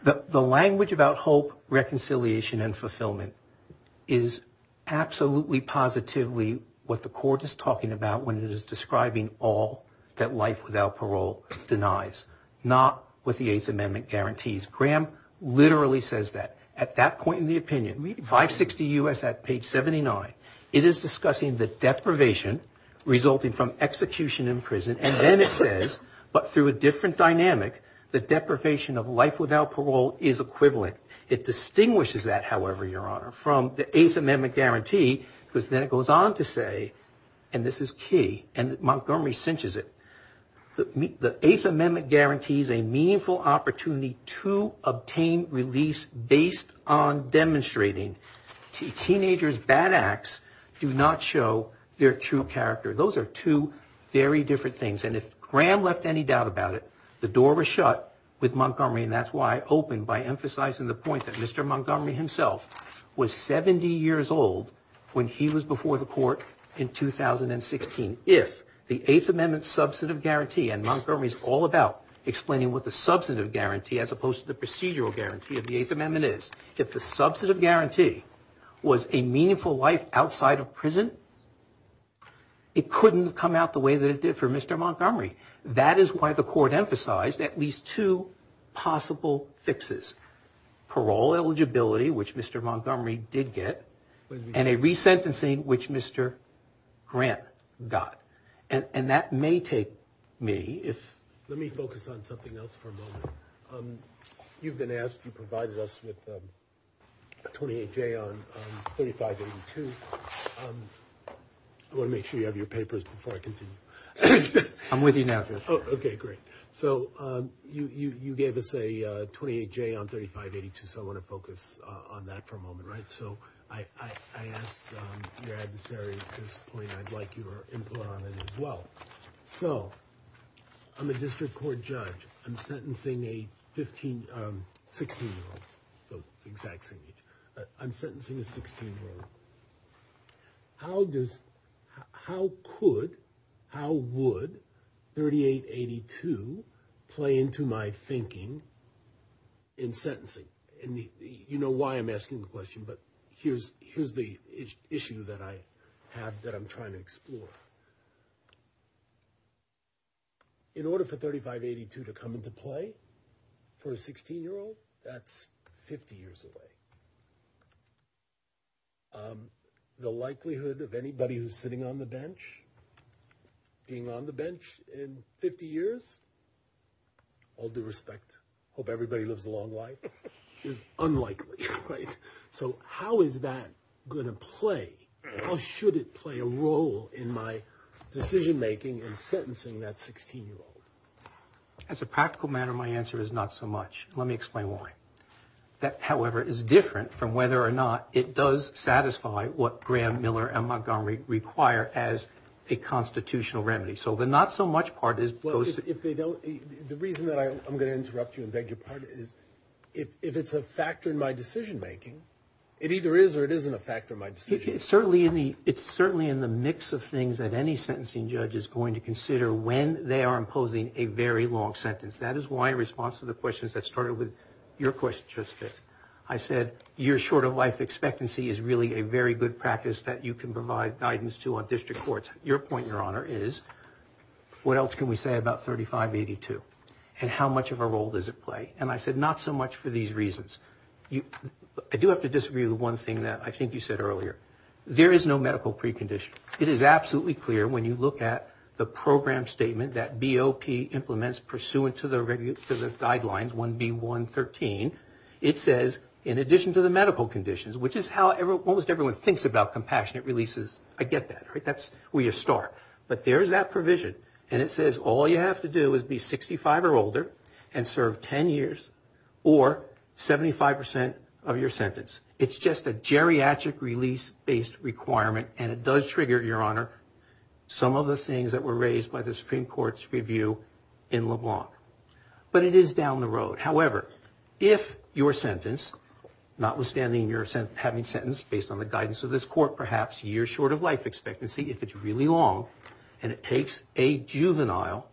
The language about hope, reconciliation, and fulfillment is absolutely positively what the court is talking about when it is describing all that life without parole denies, not what the Eighth Amendment guarantees. Graham literally says that. At that point in the opinion, 560 U.S. at page 79, it is discussing the deprivation resulting from execution in prison, and then it says, but through a different dynamic, the deprivation of life without parole is equivalent. It distinguishes that, however, Your Honor, from the Eighth Amendment guarantee, because then it goes on to say, and this is key, and Montgomery cinches it, the Eighth Amendment guarantees a meaningful opportunity to obtain release based on demonstrating teenagers' bad acts do not show their true character. Those are two very different things, and if Graham left any doubt about it, the door was shut with Montgomery, and that's why I open by emphasizing the point that Mr. Montgomery himself was 70 years old when he was before the court in 2016. If the Eighth Amendment substantive guarantee, and Montgomery is all about explaining what the substantive guarantee as opposed to the procedural guarantee of the Eighth Amendment is, if the substantive guarantee was a meaningful life outside of prison, it couldn't have come out the way that it did for Mr. Montgomery. That is why the court emphasized at least two possible fixes, parole eligibility, which Mr. Montgomery did get, and a resentencing which Mr. Grant got, and that may take me, if... Let me focus on something else for a moment. You've been asked, you provided us with 28J on 3582. I want to make sure you have your papers before I continue. I'm with you now, Judge. Okay, great. So you gave us a 28J on 3582, so I want to focus on that for a moment, right? So I asked your adversary at this point, I'd like your input on it as well. So I'm a district court judge. I'm sentencing a 16-year-old, so exact same age. I'm sentencing a 16-year-old. How does, how could, how would 3882 play into my thinking in sentencing? And you know why I'm asking the question, but here's the issue that I have that I'm trying to explore. In order for 3582 to come into play for a 16-year-old, that's 50 years away. The likelihood of anybody who's sitting on the bench being on the bench in 50 years, all due respect, hope everybody lives a long life, is unlikely, right? So how is that going to play? How should it play a role in my decision-making in sentencing that 16-year-old? As a practical matter, my answer is not so much. Let me explain why. That, however, is different from whether or not it does satisfy what Graham, Miller, and Montgomery require as a constitutional remedy. Well, if they don't, the reason that I'm going to interrupt you and beg your pardon is if it's a factor in my decision-making, it either is or it isn't a factor in my decision-making. It's certainly in the mix of things that any sentencing judge is going to consider when they are imposing a very long sentence. That is why in response to the questions that started with your question, Justice, I said you're short of life expectancy is really a very good practice that you can provide guidance to on district courts. Your point, Your Honor, is what else can we say about 3582 and how much of a role does it play? And I said not so much for these reasons. I do have to disagree with one thing that I think you said earlier. There is no medical precondition. It is absolutely clear when you look at the program statement that BOP implements pursuant to the guidelines, 1B113, it says in addition to the medical conditions, which is how almost everyone thinks about compassionate releases, I get that, right? That's where you start. But there's that provision, and it says all you have to do is be 65 or older and serve 10 years or 75% of your sentence. It's just a geriatric release-based requirement, and it does trigger, Your Honor, some of the things that were raised by the Supreme Court's review in LeBlanc. But it is down the road. However, if your sentence, notwithstanding your having sentenced based on the guidance of this court, perhaps years short of life expectancy, if it's really long and it takes a juvenile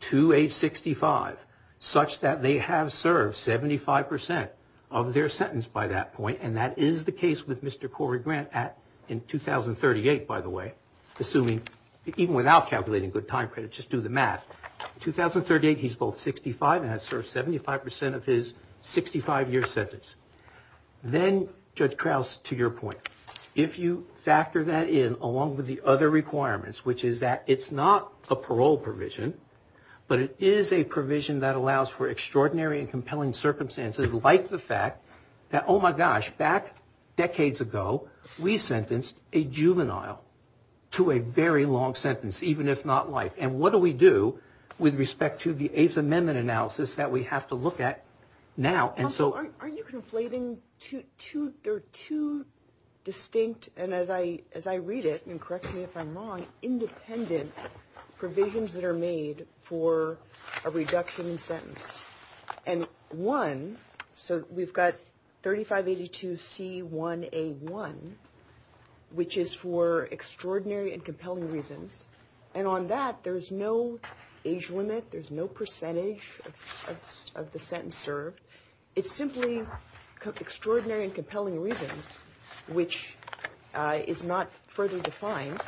to age 65 such that they have served 75% of their sentence by that point, and that is the case with Mr. Corey Grant in 2038, by the way, assuming even without calculating good time credit, just do the math. In 2038, he's both 65 and has served 75% of his 65-year sentence. Then, Judge Krauss, to your point, if you factor that in along with the other requirements, which is that it's not a parole provision, but it is a provision that allows for extraordinary and compelling circumstances like the fact that, oh, my gosh, back decades ago, we sentenced a juvenile to a very long sentence, even if not life. And what do we do with respect to the Eighth Amendment analysis that we have to look at now? Aren't you conflating two distinct, and as I read it, and correct me if I'm wrong, independent provisions that are made for a reduction in sentence? And one, so we've got 3582C1A1, which is for extraordinary and compelling reasons. And on that, there's no age limit. There's no percentage of the sentence served. It's simply extraordinary and compelling reasons, which is not further defined.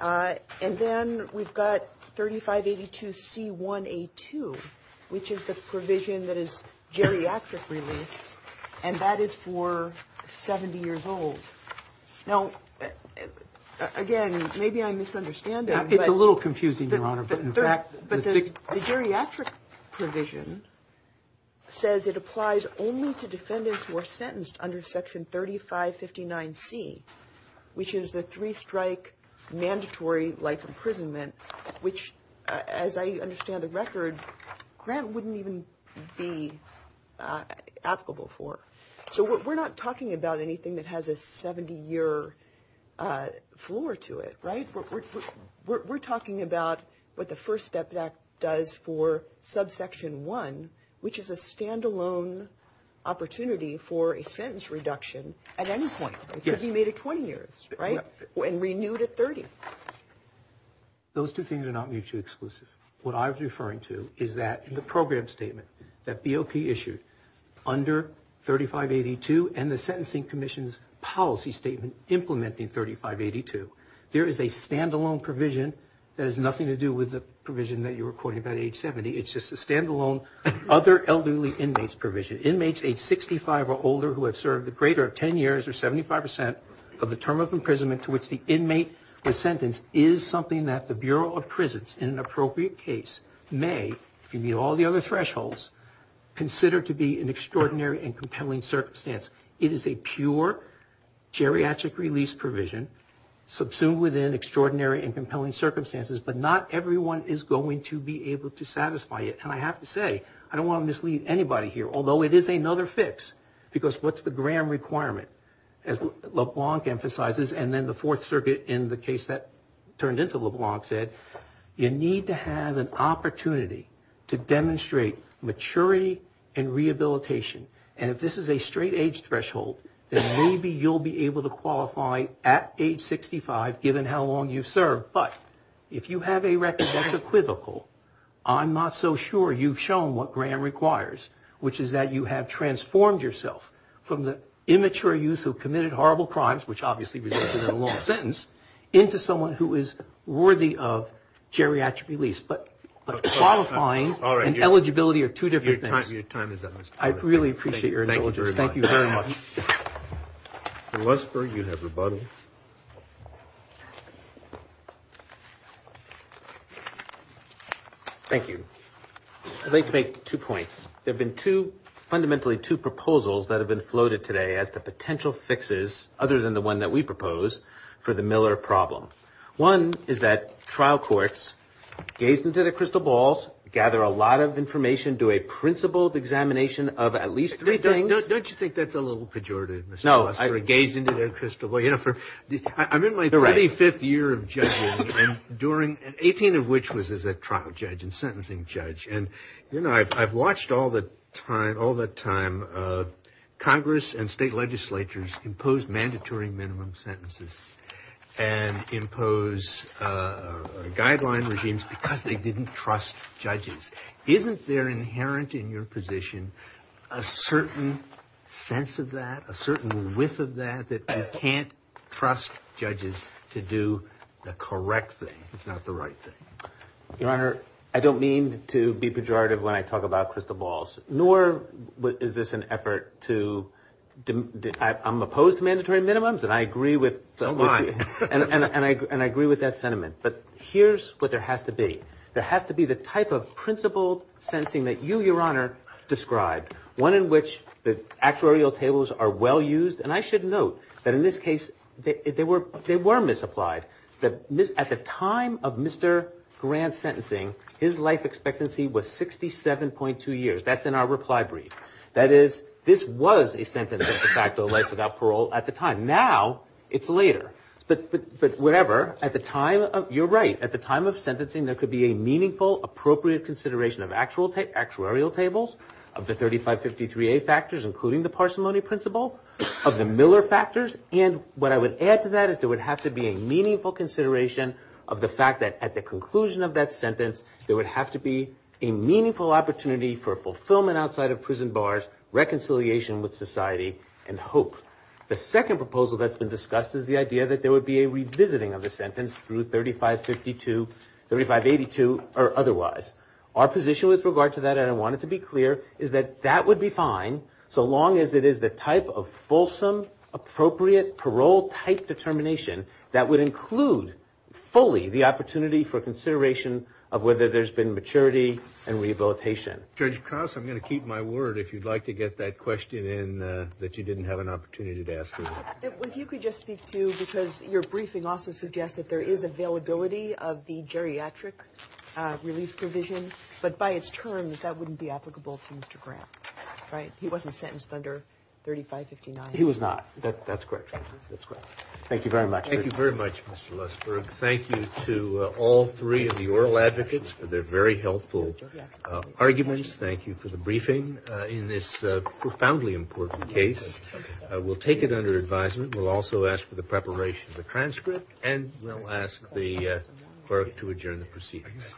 And then we've got 3582C1A2, which is the provision that is geriatric release, and that is for 70 years old. Now, again, maybe I'm misunderstanding. It's a little confusing, Your Honor. But the geriatric provision says it applies only to defendants who are sentenced under Section 3559C, which is the three-strike mandatory life imprisonment, which, as I understand the record, Grant wouldn't even be applicable for. So we're not talking about anything that has a 70-year floor to it, right? We're talking about what the First Step Act does for Subsection 1, which is a standalone opportunity for a sentence reduction at any point. Yes. Because you made it 20 years, right, and renewed it 30. Those two things are not mutually exclusive. What I was referring to is that in the program statement that BOP issued under 3582 and the Sentencing Commission's policy statement implementing 3582, there is a standalone provision that has nothing to do with the provision that you were quoting about age 70. It's just a standalone other elderly inmates provision. Inmates age 65 or older who have served the greater of 10 years or 75 percent of the term of imprisonment to which the inmate was sentenced is something that the Bureau of Prisons, in an appropriate case, may, if you meet all the other thresholds, consider to be an extraordinary and compelling circumstance. It is a pure geriatric release provision subsumed within extraordinary and compelling circumstances, but not everyone is going to be able to satisfy it. And I have to say, I don't want to mislead anybody here, although it is another fix, because what's the GRAM requirement, as LeBlanc emphasizes, and then the Fourth Circuit in the case that turned into LeBlanc said, you need to have an opportunity to demonstrate maturity and rehabilitation. And if this is a straight age threshold, then maybe you'll be able to qualify at age 65, given how long you've served. But if you have a record that's equivocal, I'm not so sure you've shown what GRAM requires, which is that you have transformed yourself from the immature youth who committed horrible crimes, which obviously resulted in a long sentence, into someone who is worthy of geriatric release. But qualifying and eligibility are two different things. I really appreciate your indulgence. Thank you very much. Thank you. I'd like to make two points. There have been fundamentally two proposals that have been floated today as to potential fixes, other than the one that we propose, for the Miller problem. One is that trial courts gaze into their crystal balls, gather a lot of information, do a principled examination of at least three things. Don't you think that's a little pejorative, Mr. Osterling? No. Gaze into their crystal balls. I'm in my 35th year of judging, 18 of which was as a trial judge and sentencing judge. I've watched all the time Congress and state legislatures impose mandatory minimum sentences and impose guideline regimes because they didn't trust judges. Isn't there inherent in your position a certain sense of that, a certain whiff of that, that you can't trust judges to do the correct thing, if not the right thing? Your Honor, I don't mean to be pejorative when I talk about crystal balls, nor is this an effort to – I'm opposed to mandatory minimums and I agree with – So am I. And I agree with that sentiment. But here's what there has to be. There has to be the type of principled sentencing that you, Your Honor, described, one in which the actuarial tables are well used. And I should note that in this case they were misapplied. At the time of Mr. Grant's sentencing, his life expectancy was 67.2 years. That's in our reply brief. That is, this was a sentence of de facto life without parole at the time. Now it's later. But whatever. At the time – you're right. At the time of sentencing there could be a meaningful, appropriate consideration of actuarial tables, of the 3553A factors, including the parsimony principle, of the Miller factors. And what I would add to that is there would have to be a meaningful consideration of the fact that at the conclusion of that sentence there would have to be a meaningful opportunity for fulfillment outside of prison bars, reconciliation with society, and hope. The second proposal that's been discussed is the idea that there would be a revisiting of the sentence through 3552, 3582, or otherwise. Our position with regard to that, and I want it to be clear, is that that would be fine so long as it is the type of fulsome, appropriate, parole-type determination that would include fully the opportunity for consideration of whether there's been maturity and rehabilitation. Judge Cross, I'm going to keep my word if you'd like to get that question in that you didn't have an opportunity to ask earlier. If you could just speak to, because your briefing also suggests that there is availability of the geriatric release provision, but by its terms that wouldn't be applicable to Mr. Grant, right? He wasn't sentenced under 3559. He was not. That's correct. That's correct. Thank you very much. Thank you very much, Mr. Lustberg. Thank you to all three of the oral advocates for their very helpful arguments. Thank you for the briefing in this profoundly important case. We'll take it under advisement. We'll also ask for the preparation of the transcript, and we'll ask the clerk to adjourn the proceedings. Thank you.